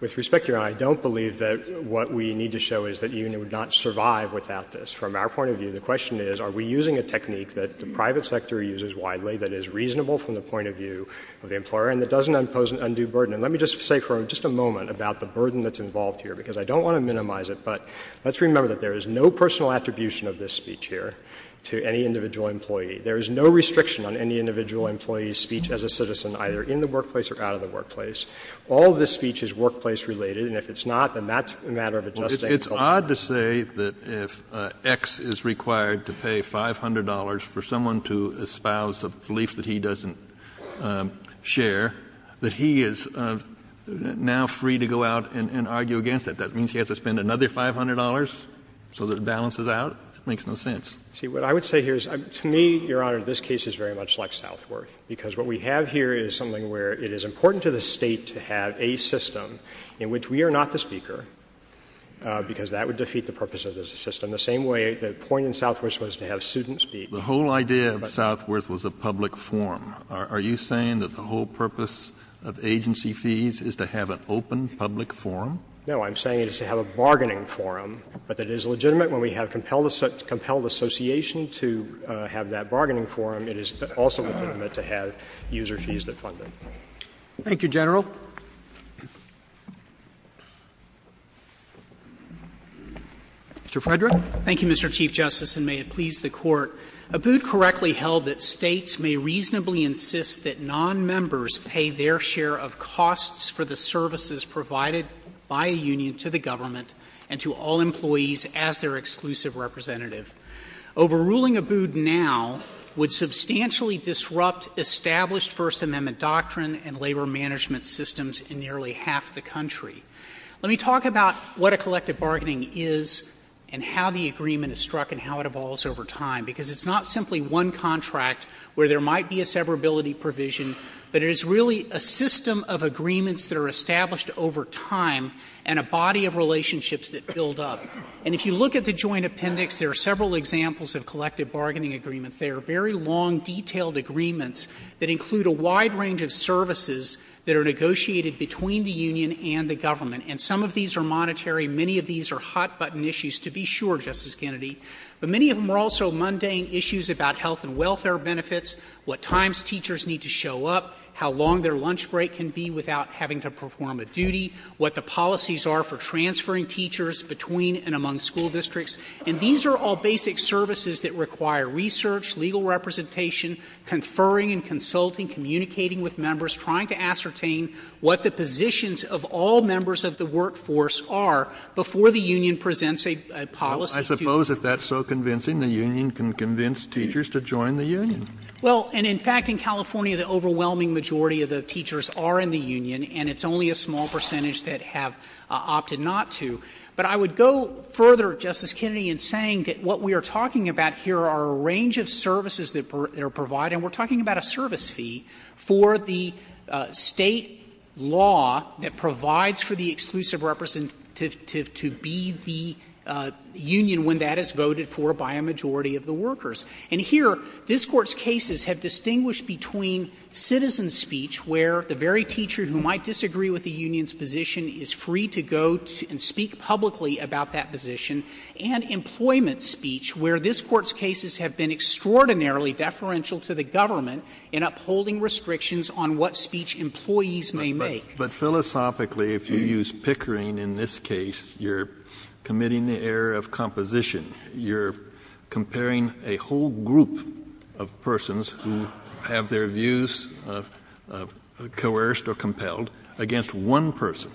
With respect, Your Honor, I don't believe that what we need to show is that the union would not survive without this. From our point of view, the question is are we using a technique that the private sector uses widely that is reasonable from the point of view of the employer and that doesn't impose an undue burden? And let me just say for just a moment about the burden that's involved here because I don't want to minimize it. But let's remember that there is no personal attribution of this speech here to any individual employee. There is no restriction on any individual employee's speech as a citizen either in the workplace or out of the workplace. All of this speech is workplace-related. And if it's not, then that's a matter of adjusting. It's odd to say that if X is required to pay $500 for someone to espouse a belief that he doesn't share, that he is now free to go out and argue against it. That means he has to spend another $500 so that it balances out? It makes no sense. See, what I would say here is to me, Your Honor, this case is very much like Southworth because what we have here is something where it is important to the State to have a public forum because that would defeat the purpose of this system. The same way the point in Southworth was to have students speak. The whole idea of Southworth was a public forum. Are you saying that the whole purpose of agency fees is to have an open public forum? No. I'm saying it's to have a bargaining forum. But it is legitimate when we have compelled association to have that bargaining forum. It is also legitimate to have user fees that fund it. Thank you, General. Mr. Frederick? Thank you, Mr. Chief Justice, and may it please the Court. Abood correctly held that States may reasonably insist that nonmembers pay their share of costs for the services provided by a union to the government and to all employees as their exclusive representative. Overruling Abood now would substantially disrupt established First Amendment doctrine and labor management systems in nearly half the country. Let me talk about what a collective bargaining is and how the agreement is struck and how it evolves over time because it's not simply one contract where there might be a severability provision, but it is really a system of agreements that are established over time and a body of relationships that build up. And if you look at the joint appendix, there are several examples of collective bargaining agreements. They are very long, detailed agreements that include a wide range of services that are negotiated between the union and the government. And some of these are monetary. Many of these are hot-button issues, to be sure, Justice Kennedy. But many of them are also mundane issues about health and welfare benefits, what times teachers need to show up, how long their lunch break can be without having to perform a duty, what the policies are for transferring teachers between and among school districts. And these are all basic services that require research, legal representation, conferring and consulting, communicating with members, trying to ascertain what the positions of all members of the workforce are before the union presents a policy. I suppose if that's so convincing, the union can convince teachers to join the union. Well, and in fact, in California, the overwhelming majority of the teachers are in the union, and it's only a small percentage that have opted not to. But I would go further, Justice Kennedy, in saying that what we are talking about here are a range of services that are provided. And we're talking about a service fee for the State law that provides for the exclusive representative to be the union when that is voted for by a majority of the workers. And here, this Court's cases have distinguished between citizen speech, where the very teacher who might disagree with the union's position is free to go and speak publicly about that position, and employment speech, where this Court's cases have been extraordinarily deferential to the government in upholding restrictions on what speech employees may make. But philosophically, if you use Pickering in this case, you're committing the error of composition. You're comparing a whole group of persons who have their views coerced or compared or compelled against one person.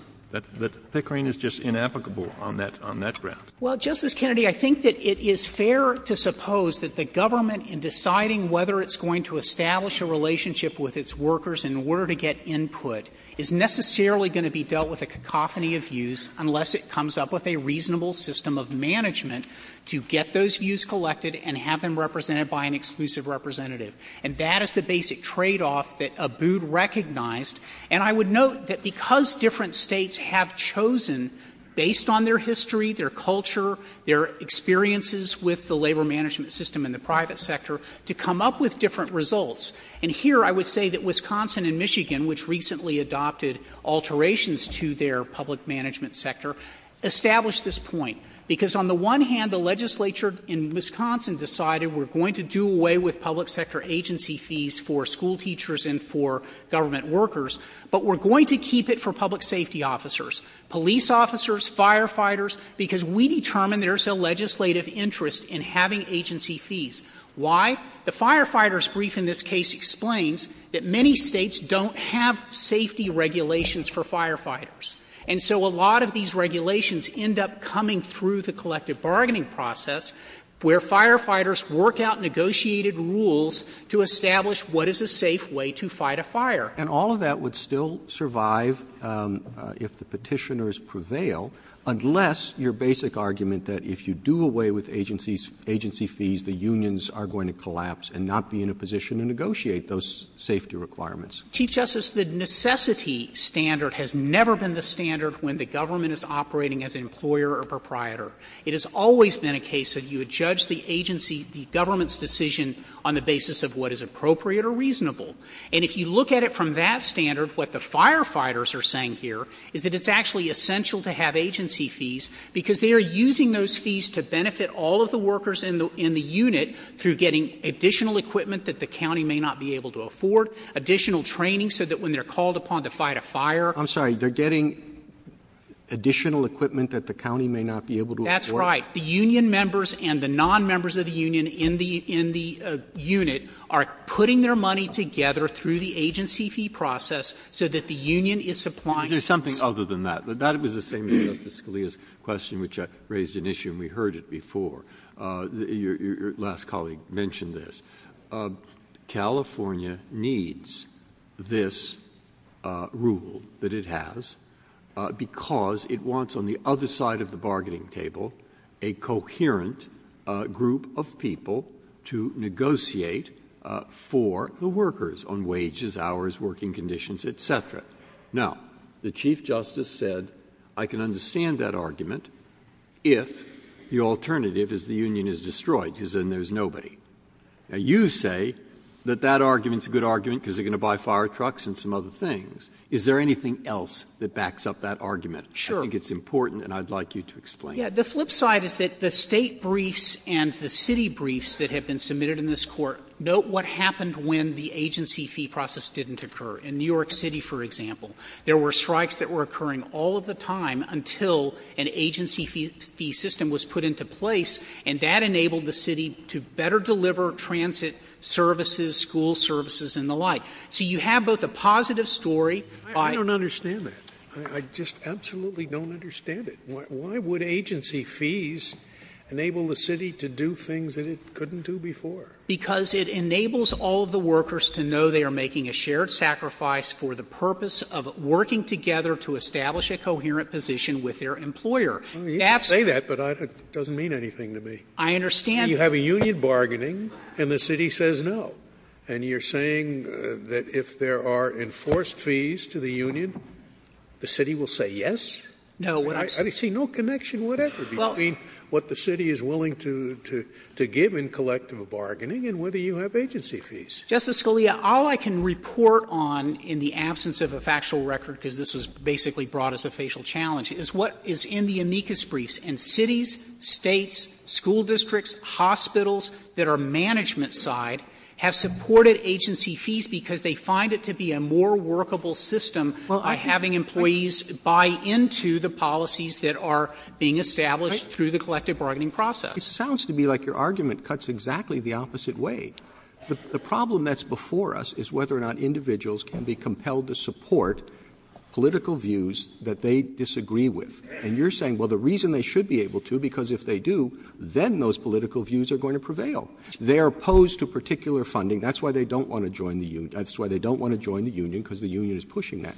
That Pickering is just inapplicable on that ground. Well, Justice Kennedy, I think that it is fair to suppose that the government, in deciding whether it's going to establish a relationship with its workers and where to get input, is necessarily going to be dealt with a cacophony of views unless it comes up with a reasonable system of management to get those views collected and have them represented by an exclusive representative. And that is the basic tradeoff that Abood recognized. And I would note that because different states have chosen, based on their history, their culture, their experiences with the labor management system in the private sector, to come up with different results, and here I would say that Wisconsin and Michigan, which recently adopted alterations to their public management sector, established this point because, on the one hand, the legislature in Wisconsin decided we're going to do away with public sector agency fees for school teachers and for government workers, but we're going to keep it for public safety officers, police officers, firefighters, because we determine there's a legislative interest in having agency fees. Why? The firefighters' brief in this case explains that many states don't have safety regulations for firefighters. And so a lot of these regulations end up coming through the collective bargaining process where firefighters work out negotiated rules to establish what is a safe way to fight a fire. And all of that would still survive if the petitioners prevail, unless your basic argument that if you do away with agency fees, the unions are going to collapse and not be in a position to negotiate those safety requirements. Chief Justice, the necessity standard has never been the standard when the government is operating as employer or proprietor. It has always been a case of you judge the agency, the government's decision on the basis of what is appropriate or reasonable. And if you look at it from that standard, what the firefighters are saying here is that it's actually essential to have agency fees because they are using those fees to benefit all of the workers in the unit through getting additional equipment that the county may not be able to afford, additional training so that when they're called upon to fight a fire I'm sorry, they're getting additional equipment that the county may not be able to afford? That's right. The union members and the non-members of the union in the unit are putting their money together through the agency fee process so that the union is supplying There's something other than that. That was the same thing as Scalia's question, which raised an issue and we heard it before. Your last colleague mentioned this. California needs this rule that it has because it wants on the other side of the bargaining table a coherent group of people to negotiate for the workers on wages, hours, working conditions, et cetera. Now, the Chief Justice said I can understand that argument if the alternative is the union is destroyed because then there's nobody. Now, you say that that argument is a good argument because they're going to buy fire trucks and some other things. Is there anything else that backs up that argument? Sure. I think it's important and I'd like you to explain it. The flip side is that the state briefs and the city briefs that have been submitted in this court, note what happened when the agency fee process didn't occur. In New York City, for example, there were strikes that were occurring all of the time until an agency fee system was put into place and that enabled the city to better deliver transit services, school services and the like. So you have both a positive story. I don't understand that. I just absolutely don't understand it. Why would agency fees enable the city to do things that it couldn't do before? Because it enables all of the workers to know they are making a shared sacrifice for the You can say that, but it doesn't mean anything to me. I understand. You have a union bargaining and the city says no. And you're saying that if there are enforced fees to the union, the city will say yes? No. I see no connection whatever between what the city is willing to give in collective bargaining and whether you have agency fees. Justice Scalia, all I can report on in the absence of a factual record, because this was basically brought as a facial challenge, is what is in the amicus briefs. And cities, states, school districts, hospitals that are management side have supported agency fees because they find it to be a more workable system by having employees buy into the policies that are being established through the collective bargaining process. It sounds to me like your argument cuts exactly the opposite way. The problem that's before us is whether or not individuals can be compelled to support political views that they disagree with. And you're saying, well, the reason they should be able to, because if they do, then those political views are going to prevail. They're opposed to particular funding. That's why they don't want to join the union because the union is pushing that.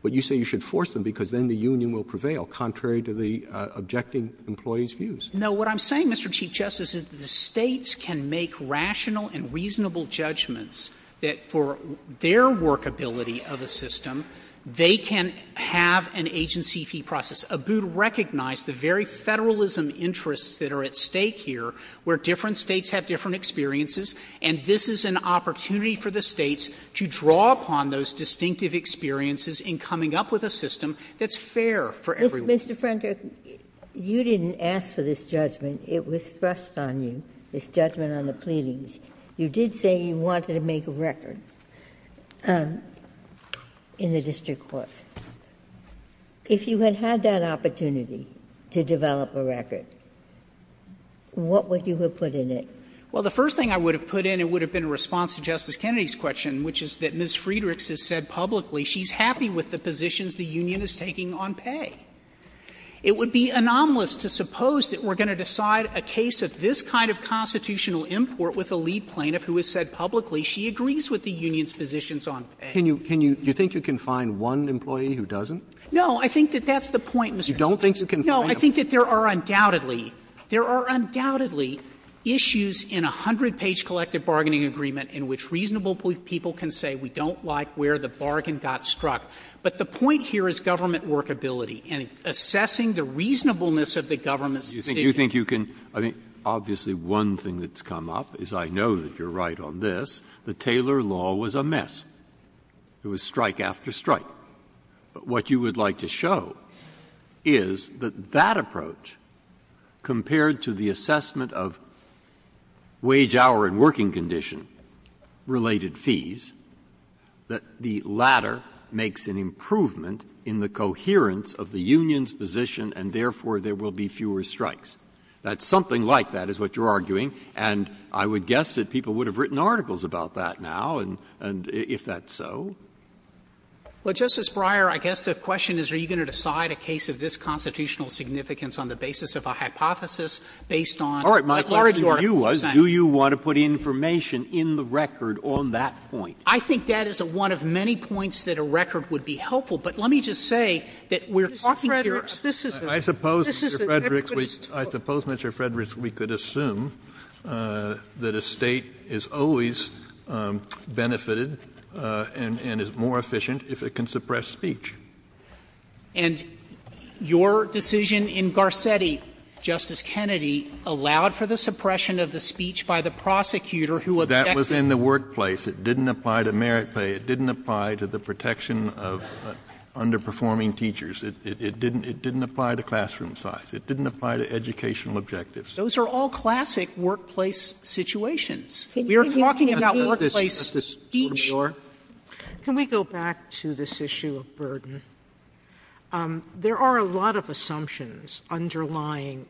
But you say you should force them because then the union will prevail, contrary to the objecting employees' views. No, what I'm saying, Mr. Chief Justice, is that the states can make rational and reasonable judgments that for their workability of the system, they can have an agency fee process. ABUD recognized the very federalism interests that are at stake here, where different states have different experiences. And this is an opportunity for the states to draw upon those distinctive experiences in coming up with a system that's fair for everyone. Mr. Prentiss, you didn't ask for this judgment. It was thrust on you, this judgment on the pleadings. You did say you wanted to make a record in the district court. If you had had that opportunity to develop a record, what would you have put in it? Well, the first thing I would have put in, it would have been a response to Justice Kennedy's question, which is that Ms. Friedrichs has said publicly she's happy with the positions the union is taking on pay. It would be anomalous to suppose that we're going to decide a case of this kind of constitutional import with a lead plaintiff who has said publicly she agrees with the union's positions on pay. Can you – do you think you can find one employee who doesn't? I think that that's the point, Mr. Chief Justice. You don't think you can find them? No. I think that there are undoubtedly – there are undoubtedly issues in a hundred-page collective bargaining agreement in which reasonable people can say we don't like where the bargain got struck. But the point here is government workability and assessing the reasonableness of the government's decision. Do you think you can – I mean, obviously one thing that's come up is I know that you're right on this. The Taylor Law was a mess. It was strike after strike. But what you would like to show is that that approach compared to the assessment of makes an improvement in the coherence of the union's position and therefore there will be fewer strikes. That's something like that is what you're arguing. And I would guess that people would have written articles about that now, if that's so. Well, Justice Breyer, I guess the question is are you going to decide a case of this constitutional significance on the basis of a hypothesis based on – All right, my question to you was do you want to put information in the record on that I think that is one of many points that a record would be helpful. But let me just say that we're talking here – Mr. Fredericks, this is – I suppose, Mr. Fredericks, we could assume that a state is always benefited and is more efficient if it can suppress speech. And your decision in Garcetti, Justice Kennedy, allowed for the suppression of the speech by the prosecutor who – That was in the workplace. It didn't apply to merit pay. It didn't apply to the protection of underperforming teachers. It didn't apply to classroom size. It didn't apply to educational objectives. Those are all classic workplace situations. We are talking about workplace speech. Can we go back to this issue of burden? There are a lot of assumptions underlying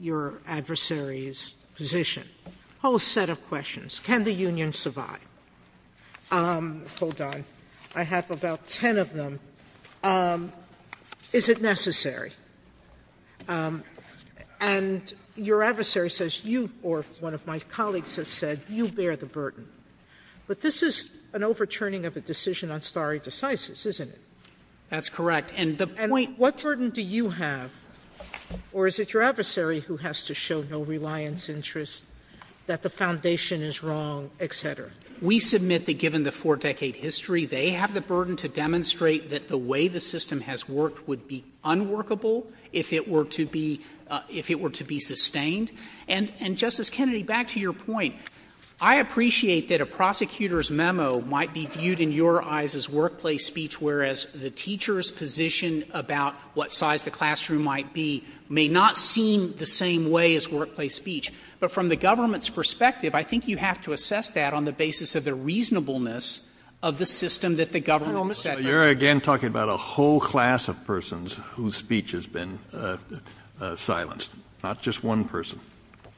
your adversary's position, a whole set of questions. Can the union survive? Hold on. I have about 10 of them. Is it necessary? And your adversary says you – or one of my colleagues has said you bear the burden. But this is an overturning of a decision on stare decisis, isn't it? That's correct. And the point – What burden do you have? Or is it your adversary who has to show no reliance, interest, that the foundation is wrong, et cetera? We submit that given the four-decade history, they have the burden to demonstrate that the way the system has worked would be unworkable if it were to be – if it were to be sustained. And, Justice Kennedy, back to your point, I appreciate that a prosecutor's memo might be viewed in your eyes as workplace speech, whereas the teacher's position about what size the classroom might be may not seem the same way as workplace speech. But from the government's perspective, I think you have to assess that on the basis of the reasonableness of the system that the government – Hold on a second. You're, again, talking about a whole class of persons whose speech has been silenced, not just one person.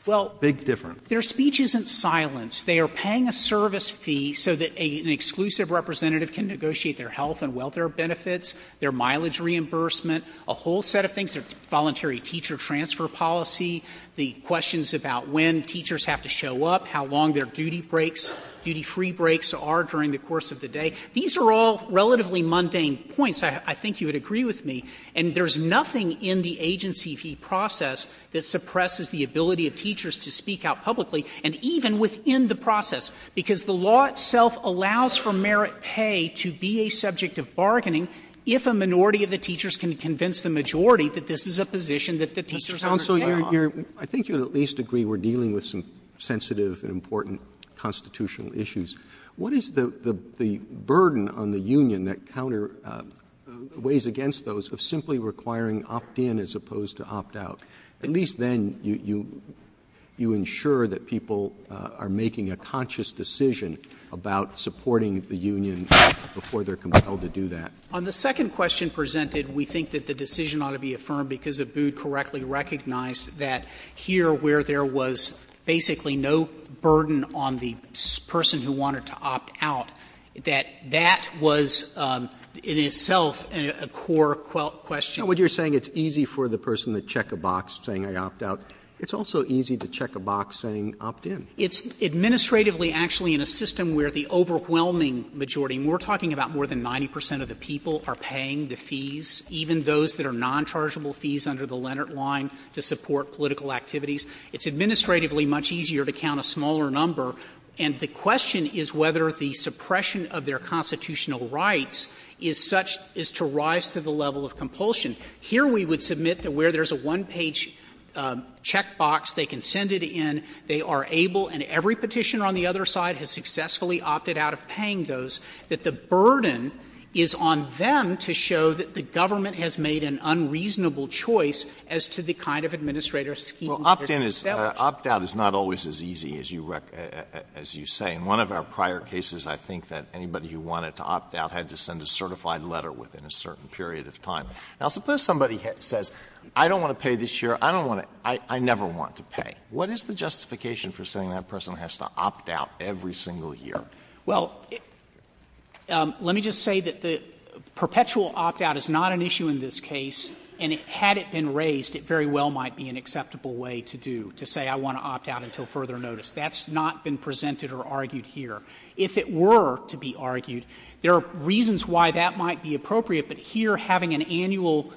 Well – Big difference. Their speech isn't silenced. They are paying a service fee so that an exclusive representative can negotiate their health and welfare benefits, their mileage reimbursement, a whole set of things, their voluntary teacher transfer policy, the questions about when teachers have to show up, how long their duty breaks, duty-free breaks are during the course of the day. These are all relatively mundane points. I think you would agree with me. And there's nothing in the agency fee process that suppresses the ability of teachers to speak out publicly, and even within the process, because the law itself allows for merit pay to be a subject of bargaining if a minority of the teachers can convince the majority that this is a position that the teachers undertake. Mr. Townsend, I think you would at least agree we're dealing with some sensitive and important constitutional issues. What is the burden on the union that counter – the ways against those of simply requiring opt-in as opposed to opt-out? At least then you ensure that people are making a conscious decision about supporting the On the second question presented, we think that the decision ought to be affirmed because Abood correctly recognized that here where there was basically no burden on the person who wanted to opt-out, that that was in itself a core question. Now, what you're saying, it's easy for the person to check a box saying, I opt-out. It's also easy to check a box saying, opt-in. It's administratively actually in a system where the overwhelming majority, and we're talking about more than 90 percent of the people, are paying the fees, even those that are non-chargeable fees under the Leonard line to support political activities. It's administratively much easier to count a smaller number, and the question is whether the suppression of their constitutional rights is such – is to rise to the level of compulsion. Here we would submit that where there's a one-page check box, they can send it in. They are able, and every Petitioner on the other side has successfully opted out of paying those, that the burden is on them to show that the government has made an unreasonable choice as to the kind of administrator's scheme. Well, opt-in is – opt-out is not always as easy as you say. In one of our prior cases, I think that anybody who wanted to opt-out had to send a certified letter within a certain period of time. Now, suppose somebody says, I don't want to pay this year. I don't want to – I never want to pay. What is the justification for saying that person has to opt-out every single year? Well, let me just say that the perpetual opt-out is not an issue in this case, and had it been raised, it very well might be an acceptable way to do – to say, I want to opt-out until further notice. That's not been presented or argued here. If it were to be argued, there are reasons why that might be appropriate, but here having an annual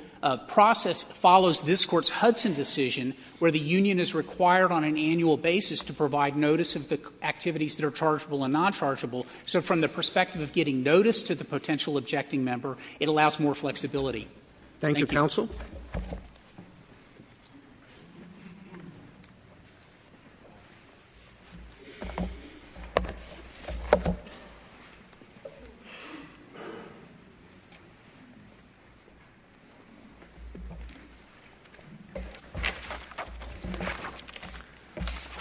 process follows this Court's Hudson decision where the union is required on an annual basis to provide notice of the activities that are chargeable and nonchargeable. So from the perspective of getting notice to the potential objecting member, it allows more flexibility. Thank you. Thank you, counsel.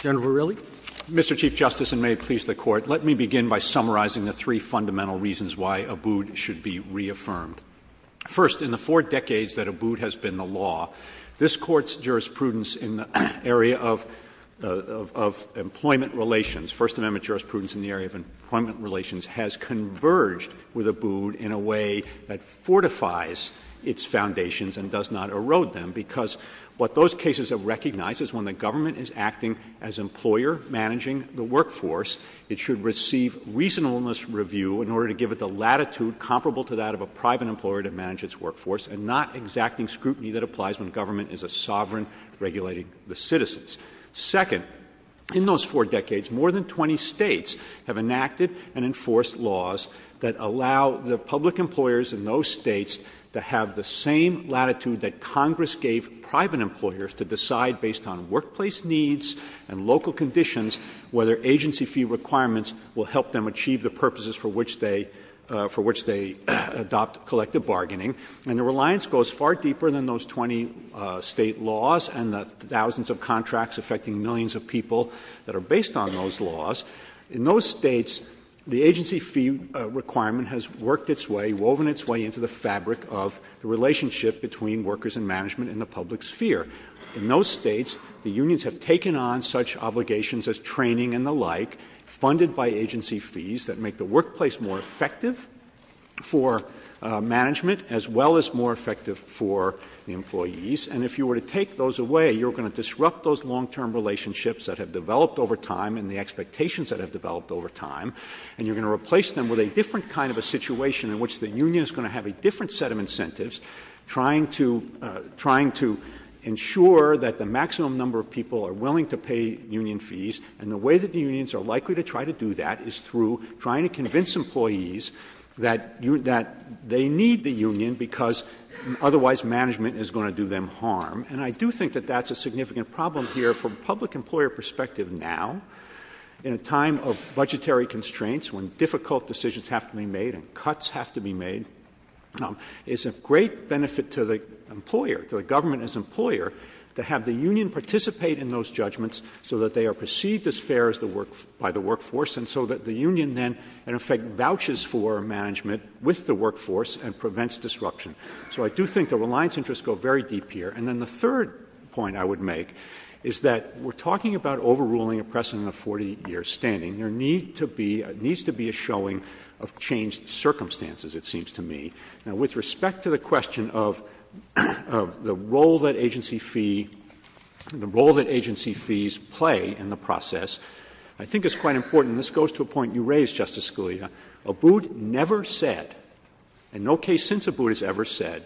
General Verrilli? Mr. Chief Justice, and may it please the Court, let me begin by summarizing the three fundamental reasons why Abood should be reaffirmed. First, in the four decades that Abood has been the law, this Court's jurisprudence in the area of employment relations, First Amendment jurisprudence in the area of employment relations, has converged with Abood in a way that fortifies its foundations and does not erode them, because what those cases have recognized is when the government is acting as employer managing the workforce, it should receive reasonableness review in order to give it the latitude comparable to that of a private employer to manage its workforce and not exacting scrutiny that applies when government is a sovereign regulating the citizens. Second, in those four decades, more than 20 states have enacted and enforced laws that allow the public employers in those states to have the same latitude that Congress gave private employers to decide based on workplace needs and local conditions whether agency fee requirements will help them achieve the purposes for which they adopt collective bargaining. And the reliance goes far deeper than those 20 state laws and the thousands of contracts affecting millions of people that are based on those laws. In those states, the agency fee requirement has worked its way, woven its way into the fabric of the relationship between workers and management in the public sphere. In those states, the unions have taken on such obligations as training and the like, funded by agency fees that make the workplace more effective for management as well as more effective for the employees. And if you were to take those away, you're going to disrupt those long-term relationships that have developed over time and the expectations that have developed over time, and you're going to replace them with a different kind of a situation in which the maximum number of people are willing to pay union fees, and the way that the unions are likely to try to do that is through trying to convince employees that they need the union because otherwise management is going to do them harm. And I do think that that's a significant problem here from a public employer perspective now in a time of budgetary constraints when difficult decisions have to be made and cuts have to be made. It's a great benefit to the employer, to the government as employer, to have the union participate in those judgments so that they are perceived as fair by the workforce and so that the union then in effect vouches for management with the workforce and prevents disruption. So I do think the reliance interests go very deep here. And then the third point I would make is that we're talking about overruling a precedent of 40 years standing. There needs to be a showing of changed circumstances, it seems to me. Now, with respect to the question of the role that agency fees play in the process, I think it's quite important, and this goes to a point you raised, Justice Scalia. Abood never said, and no case since Abood has ever said,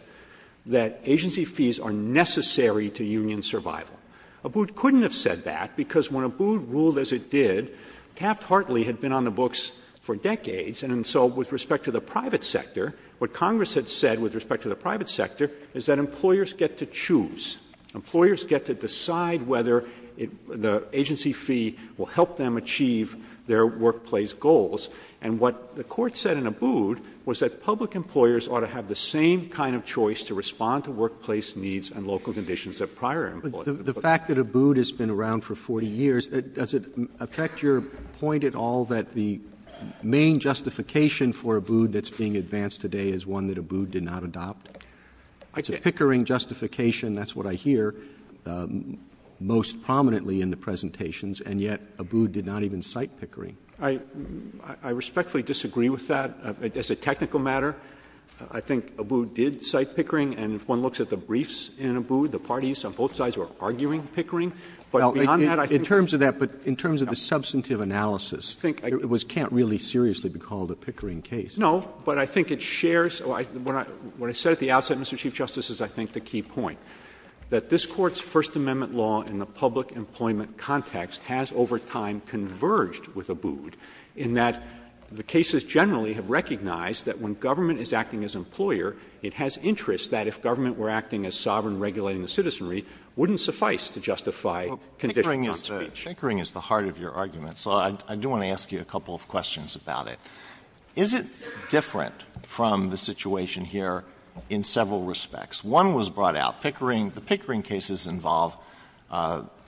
that agency fees are necessary to union survival. Abood couldn't have said that because when Abood ruled as it did, Capt Hartley had been on the books for decades, and so with respect to the private sector, what Congress had said with respect to the private sector is that employers get to choose. Employers get to decide whether the agency fee will help them achieve their workplace goals. And what the Court said in Abood was that public employers ought to have the same kind of choice to respond to workplace needs and local conditions that prior employers The fact that Abood has been around for 40 years, does it affect your point at all that the main justification for Abood that's being advanced today is one that Abood did not adopt? It's a pickering justification, that's what I hear most prominently in the presentations, and yet Abood did not even cite pickering. I respectfully disagree with that. As a technical matter, I think Abood did cite pickering, and if one looks at the briefs in Abood, the parties on both sides were arguing pickering. But beyond that, I think — Well, in terms of that, but in terms of the substantive analysis, I think it was — can't really seriously be called a pickering case. No, but I think it shares — what I said at the outset, Mr. Chief Justice, is I think the key point, that this Court's First Amendment law in the public employment context has over time converged with Abood in that the cases generally have recognized that when government is acting as employer, it has interest that if government were acting as sovereign, regulated citizenry, wouldn't suffice to justify — Well, pickering is the heart of your argument, so I do want to ask you a couple of questions about it. Is it different from the situation here in several respects? One was brought out. Pickering — the pickering cases involve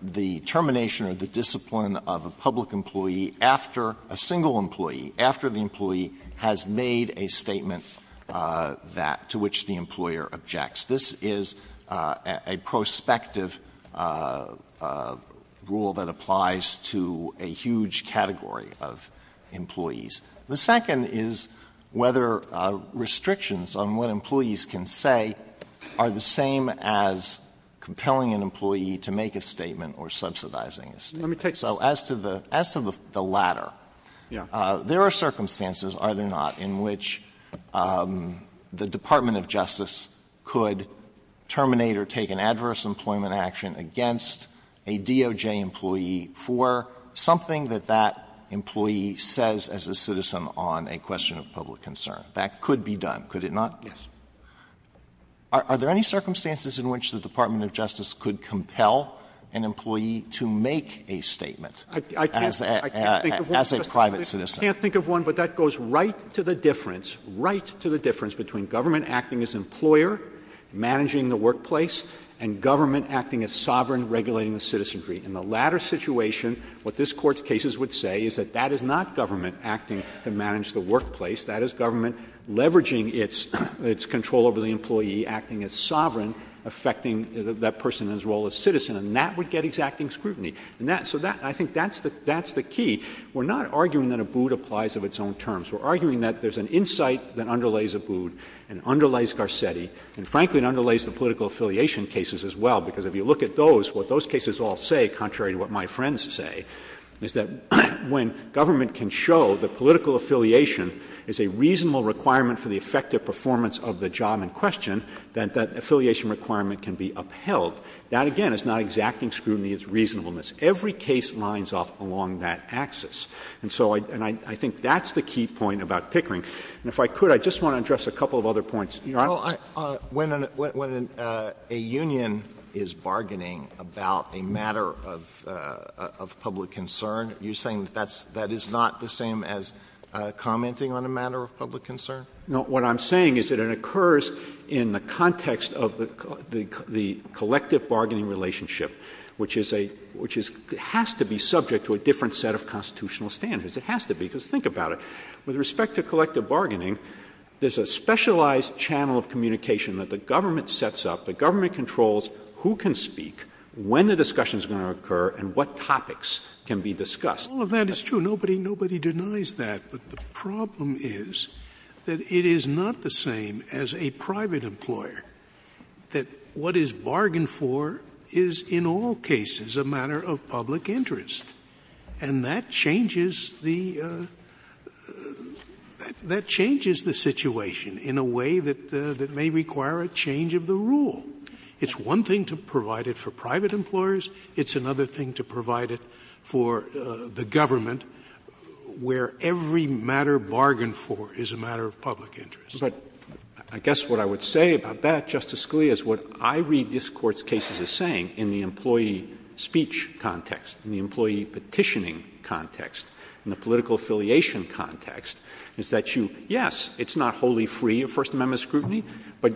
the termination or the discipline of a public employee after the employee has made a statement that — to which the employer objects. This is a prospective rule that applies to a huge category of employees. The second is whether restrictions on what employees can say are the same as compelling an employee to make a statement or subsidizing a statement. Let me take — As to the latter, there are circumstances, are there not, in which the Department of Justice could terminate or take an adverse employment action against a DOJ employee for something that that employee says as a citizen on a question of public concern. That could be done, could it not? Yes. Are there any circumstances in which the Department of Justice could compel an employee to make a statement as a private citizen? I can't think of one, but that goes right to the difference, right to the difference between government acting as employer, managing the workplace, and government acting as sovereign, regulating the citizenry. In the latter situation, what this Court's cases would say is that that is not government acting to manage the workplace. That is government leveraging its control over the employee, acting as sovereign, affecting that person in his role as citizen. And that would get exacting scrutiny. And that — so that — I think that's the — that's the key. We're not arguing that Abood applies of its own terms. We're arguing that there's an insight that underlays Abood and underlays Garcetti, and frankly, it underlays the political affiliation cases as well, because if you look at those, what those cases all say, contrary to what my friends say, is that when government can show that political affiliation is a reasonable requirement for the effective performance of the job in question, that that affiliation requirement can be upheld. That, again, is not exacting scrutiny. It's reasonableness. Every case lines up along that axis. And so — and I think that's the key point about Pickering. And if I could, I just want to address a couple of other points. You know, I — Well, when a union is bargaining about a matter of public concern, are you saying that that's — that is not the same as commenting on a matter of public concern? No. What I'm saying is that it occurs in the context of the collective bargaining relationship, which is a — which is — has to be subject to a different set of constitutional standards. It has to be, because think about it. With respect to collective bargaining, there's a specialized channel of communication that the government sets up. The government controls who can speak, when the discussion is going to occur, and what topics can be discussed. All of that is true. Nobody denies that. But the problem is that it is not the same as a private employer, that what is bargained for is, in all cases, a matter of public interest. And that changes the — that changes the situation in a way that may require a change of the rule. It's one thing to provide it for private But I guess what I would say about that, Justice Scalia, is what I read this Court's cases as saying in the employee speech context, in the employee petitioning context, in the political affiliation context, is that you — yes, it's not wholly free of First Amendment scrutiny, but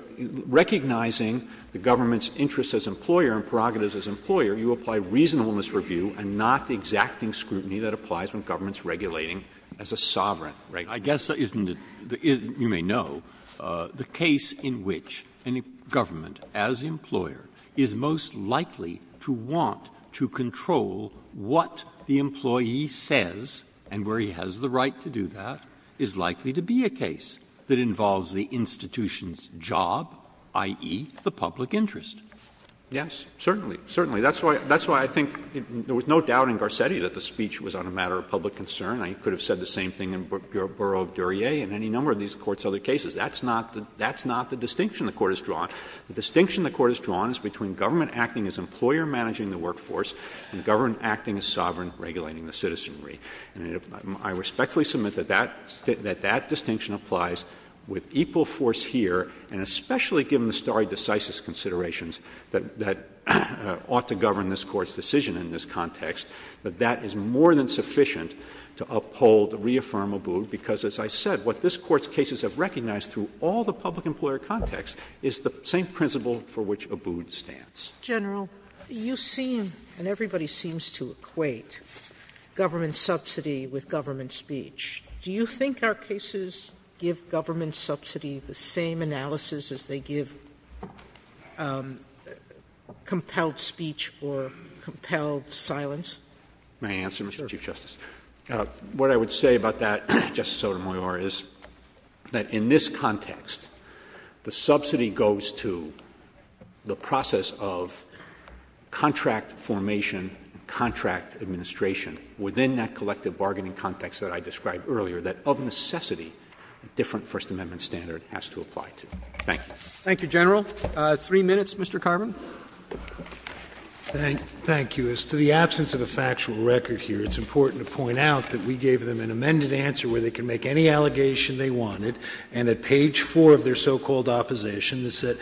recognizing the government's interest as employer and prerogatives as employer, you apply reasonableness review and not exacting scrutiny that applies when government's regulating as a sovereign, right? I guess that isn't — you may know, the case in which a government as employer is most likely to want to control what the employee says and where he has the right to do that is likely to be a case that involves the institution's job, i.e., the public interest. Yes, certainly. Certainly. That's why I think — there was no doubt in Garcetti that the speech was on a matter of public concern. I could have said the same thing in Bureau of Duryea and any number of these Court's other cases. That's not the distinction the Court has drawn. The distinction the Court has drawn is between government acting as employer managing the workforce and government acting as sovereign regulating the citizenry. And I respectfully submit that that — that that distinction applies with equal force here, and especially given the stare decisis considerations that ought to govern this Court's decision in this context, that that is more than sufficient to uphold, reaffirm Abood, because, as I said, what this Court's cases have recognized through all the public employer context is the same principle for which Abood stands. General, you seem — and everybody seems to equate government subsidy with government speech. Do you think our cases give government subsidy the same analysis as they give compelled speech or compelled silence? May I answer, Mr. Chief Justice? Sure. What I would say about that, Justice Sotomayor, is that in this context, the subsidy goes to the process of contract formation and contract administration within that collective bargaining context that I described earlier, that of necessity a different First Amendment standard has to apply to. Thank you. Thank you, General. Three minutes, Mr. Carman. Thank you. As to the absence of a factual record here, it's important to point out that we gave them an amended answer where they can make any allegation they wanted, and at page 4 of their so-called opposition, it said,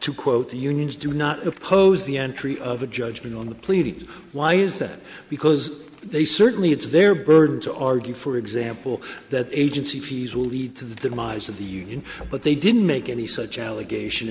to quote, the unions do not oppose the entry of a judgment on the pleadings. Why is that? Because they certainly — it's their burden to argue, for example, that agency fees will lead to the demise of the They didn't make any such allegation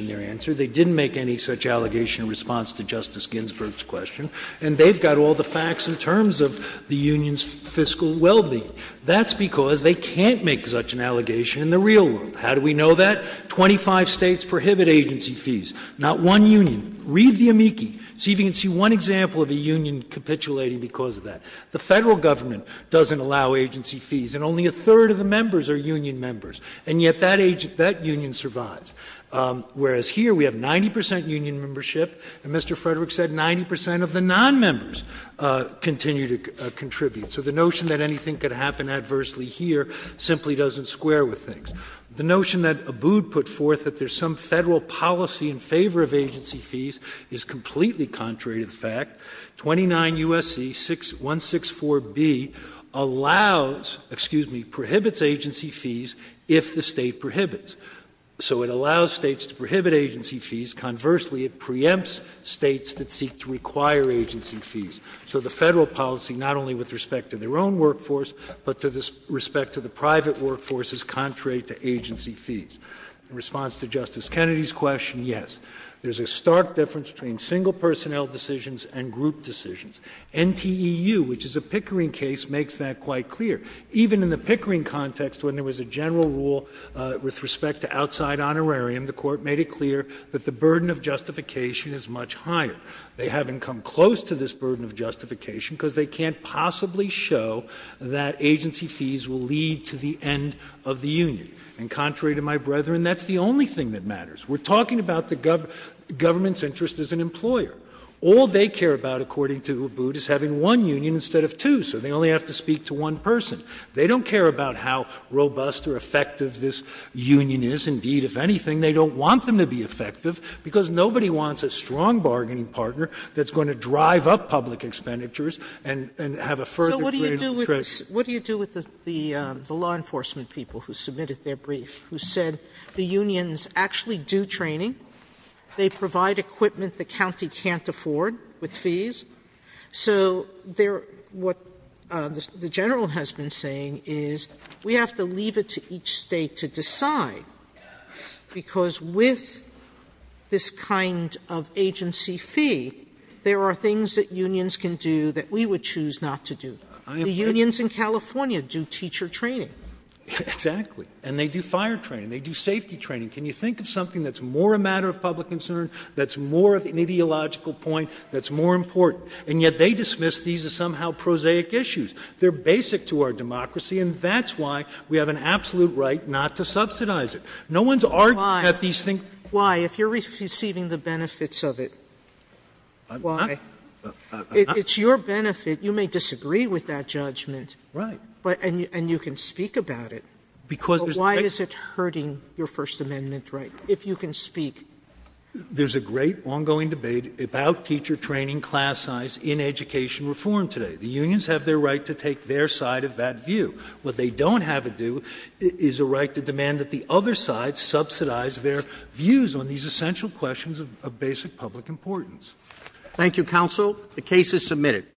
in response to Justice Ginsburg's question. And they've got all the facts in terms of the union's fiscal well-being. That's because they can't make such an allegation in the real world. How do we know that? Twenty-five states prohibit agency fees, not one union. Read the amici. See if you can see one example of a union capitulating because of that. The federal government doesn't allow agency fees, and only a third of the members are Whereas here, we have 90 percent union membership, and Mr. Frederick said 90 percent of the non-members continue to contribute. So the notion that anything could happen adversely here simply doesn't square with things. The notion that Abood put forth that there's some federal policy in favor of agency fees is completely contrary to the fact. 29 U.S.C. 164B allows — excuse me, prohibits agency fees if the state prohibits. So it allows states to prohibit agency fees. Conversely, it preempts states that seek to require agency fees. So the federal policy, not only with respect to their own workforce, but with respect to the private workforce, is contrary to agency fees. In response to Justice Kennedy's question, yes. There's a stark difference between single personnel decisions and group decisions. NTEU, which is a Pickering case, makes that quite clear. Even in the Pickering context, when there was a general rule with respect to outside honorarium, the Court made it clear that the burden of justification is much higher. They haven't come close to this burden of justification because they can't possibly show that agency fees will lead to the end of the union. And contrary to my brethren, that's the only thing that matters. We're talking about the government's interest as an employer. All they care about, according to Abood, is having one union instead of two, so they only have to speak to one person. They don't care about how robust or effective this union is. Indeed, if anything, they don't want them to be effective because nobody wants a strong bargaining partner that's going to drive up public expenditures and have a further... What do you do with the law enforcement people who submitted their brief who said the unions actually do training. They provide equipment the county can't afford with fees. So what the general has been saying is we have to leave it to each state to decide because with this kind of agency fee, there are things that unions can do that we would choose not to do. The unions in California do teacher training. Exactly. And they do fire training. They do safety training. Can you think of something that's more a matter of public concern, that's more of an ideological point, that's more important? And yet they dismiss these as somehow prosaic issues. They're basic to our democracy and that's why we have an absolute right not to subsidize it. Why? If you're receiving the benefits of it, why? It's your benefit. You may disagree with that judgment and you can speak about it, but why is it hurting your First Amendment rights if you can speak? There's a great ongoing debate about teacher training class size in education reform today. The unions have their right to take their side of that view. What they don't have to do is a right to demand that the other side subsidize their views on these essential questions of basic public importance. Thank you, counsel. The case is submitted.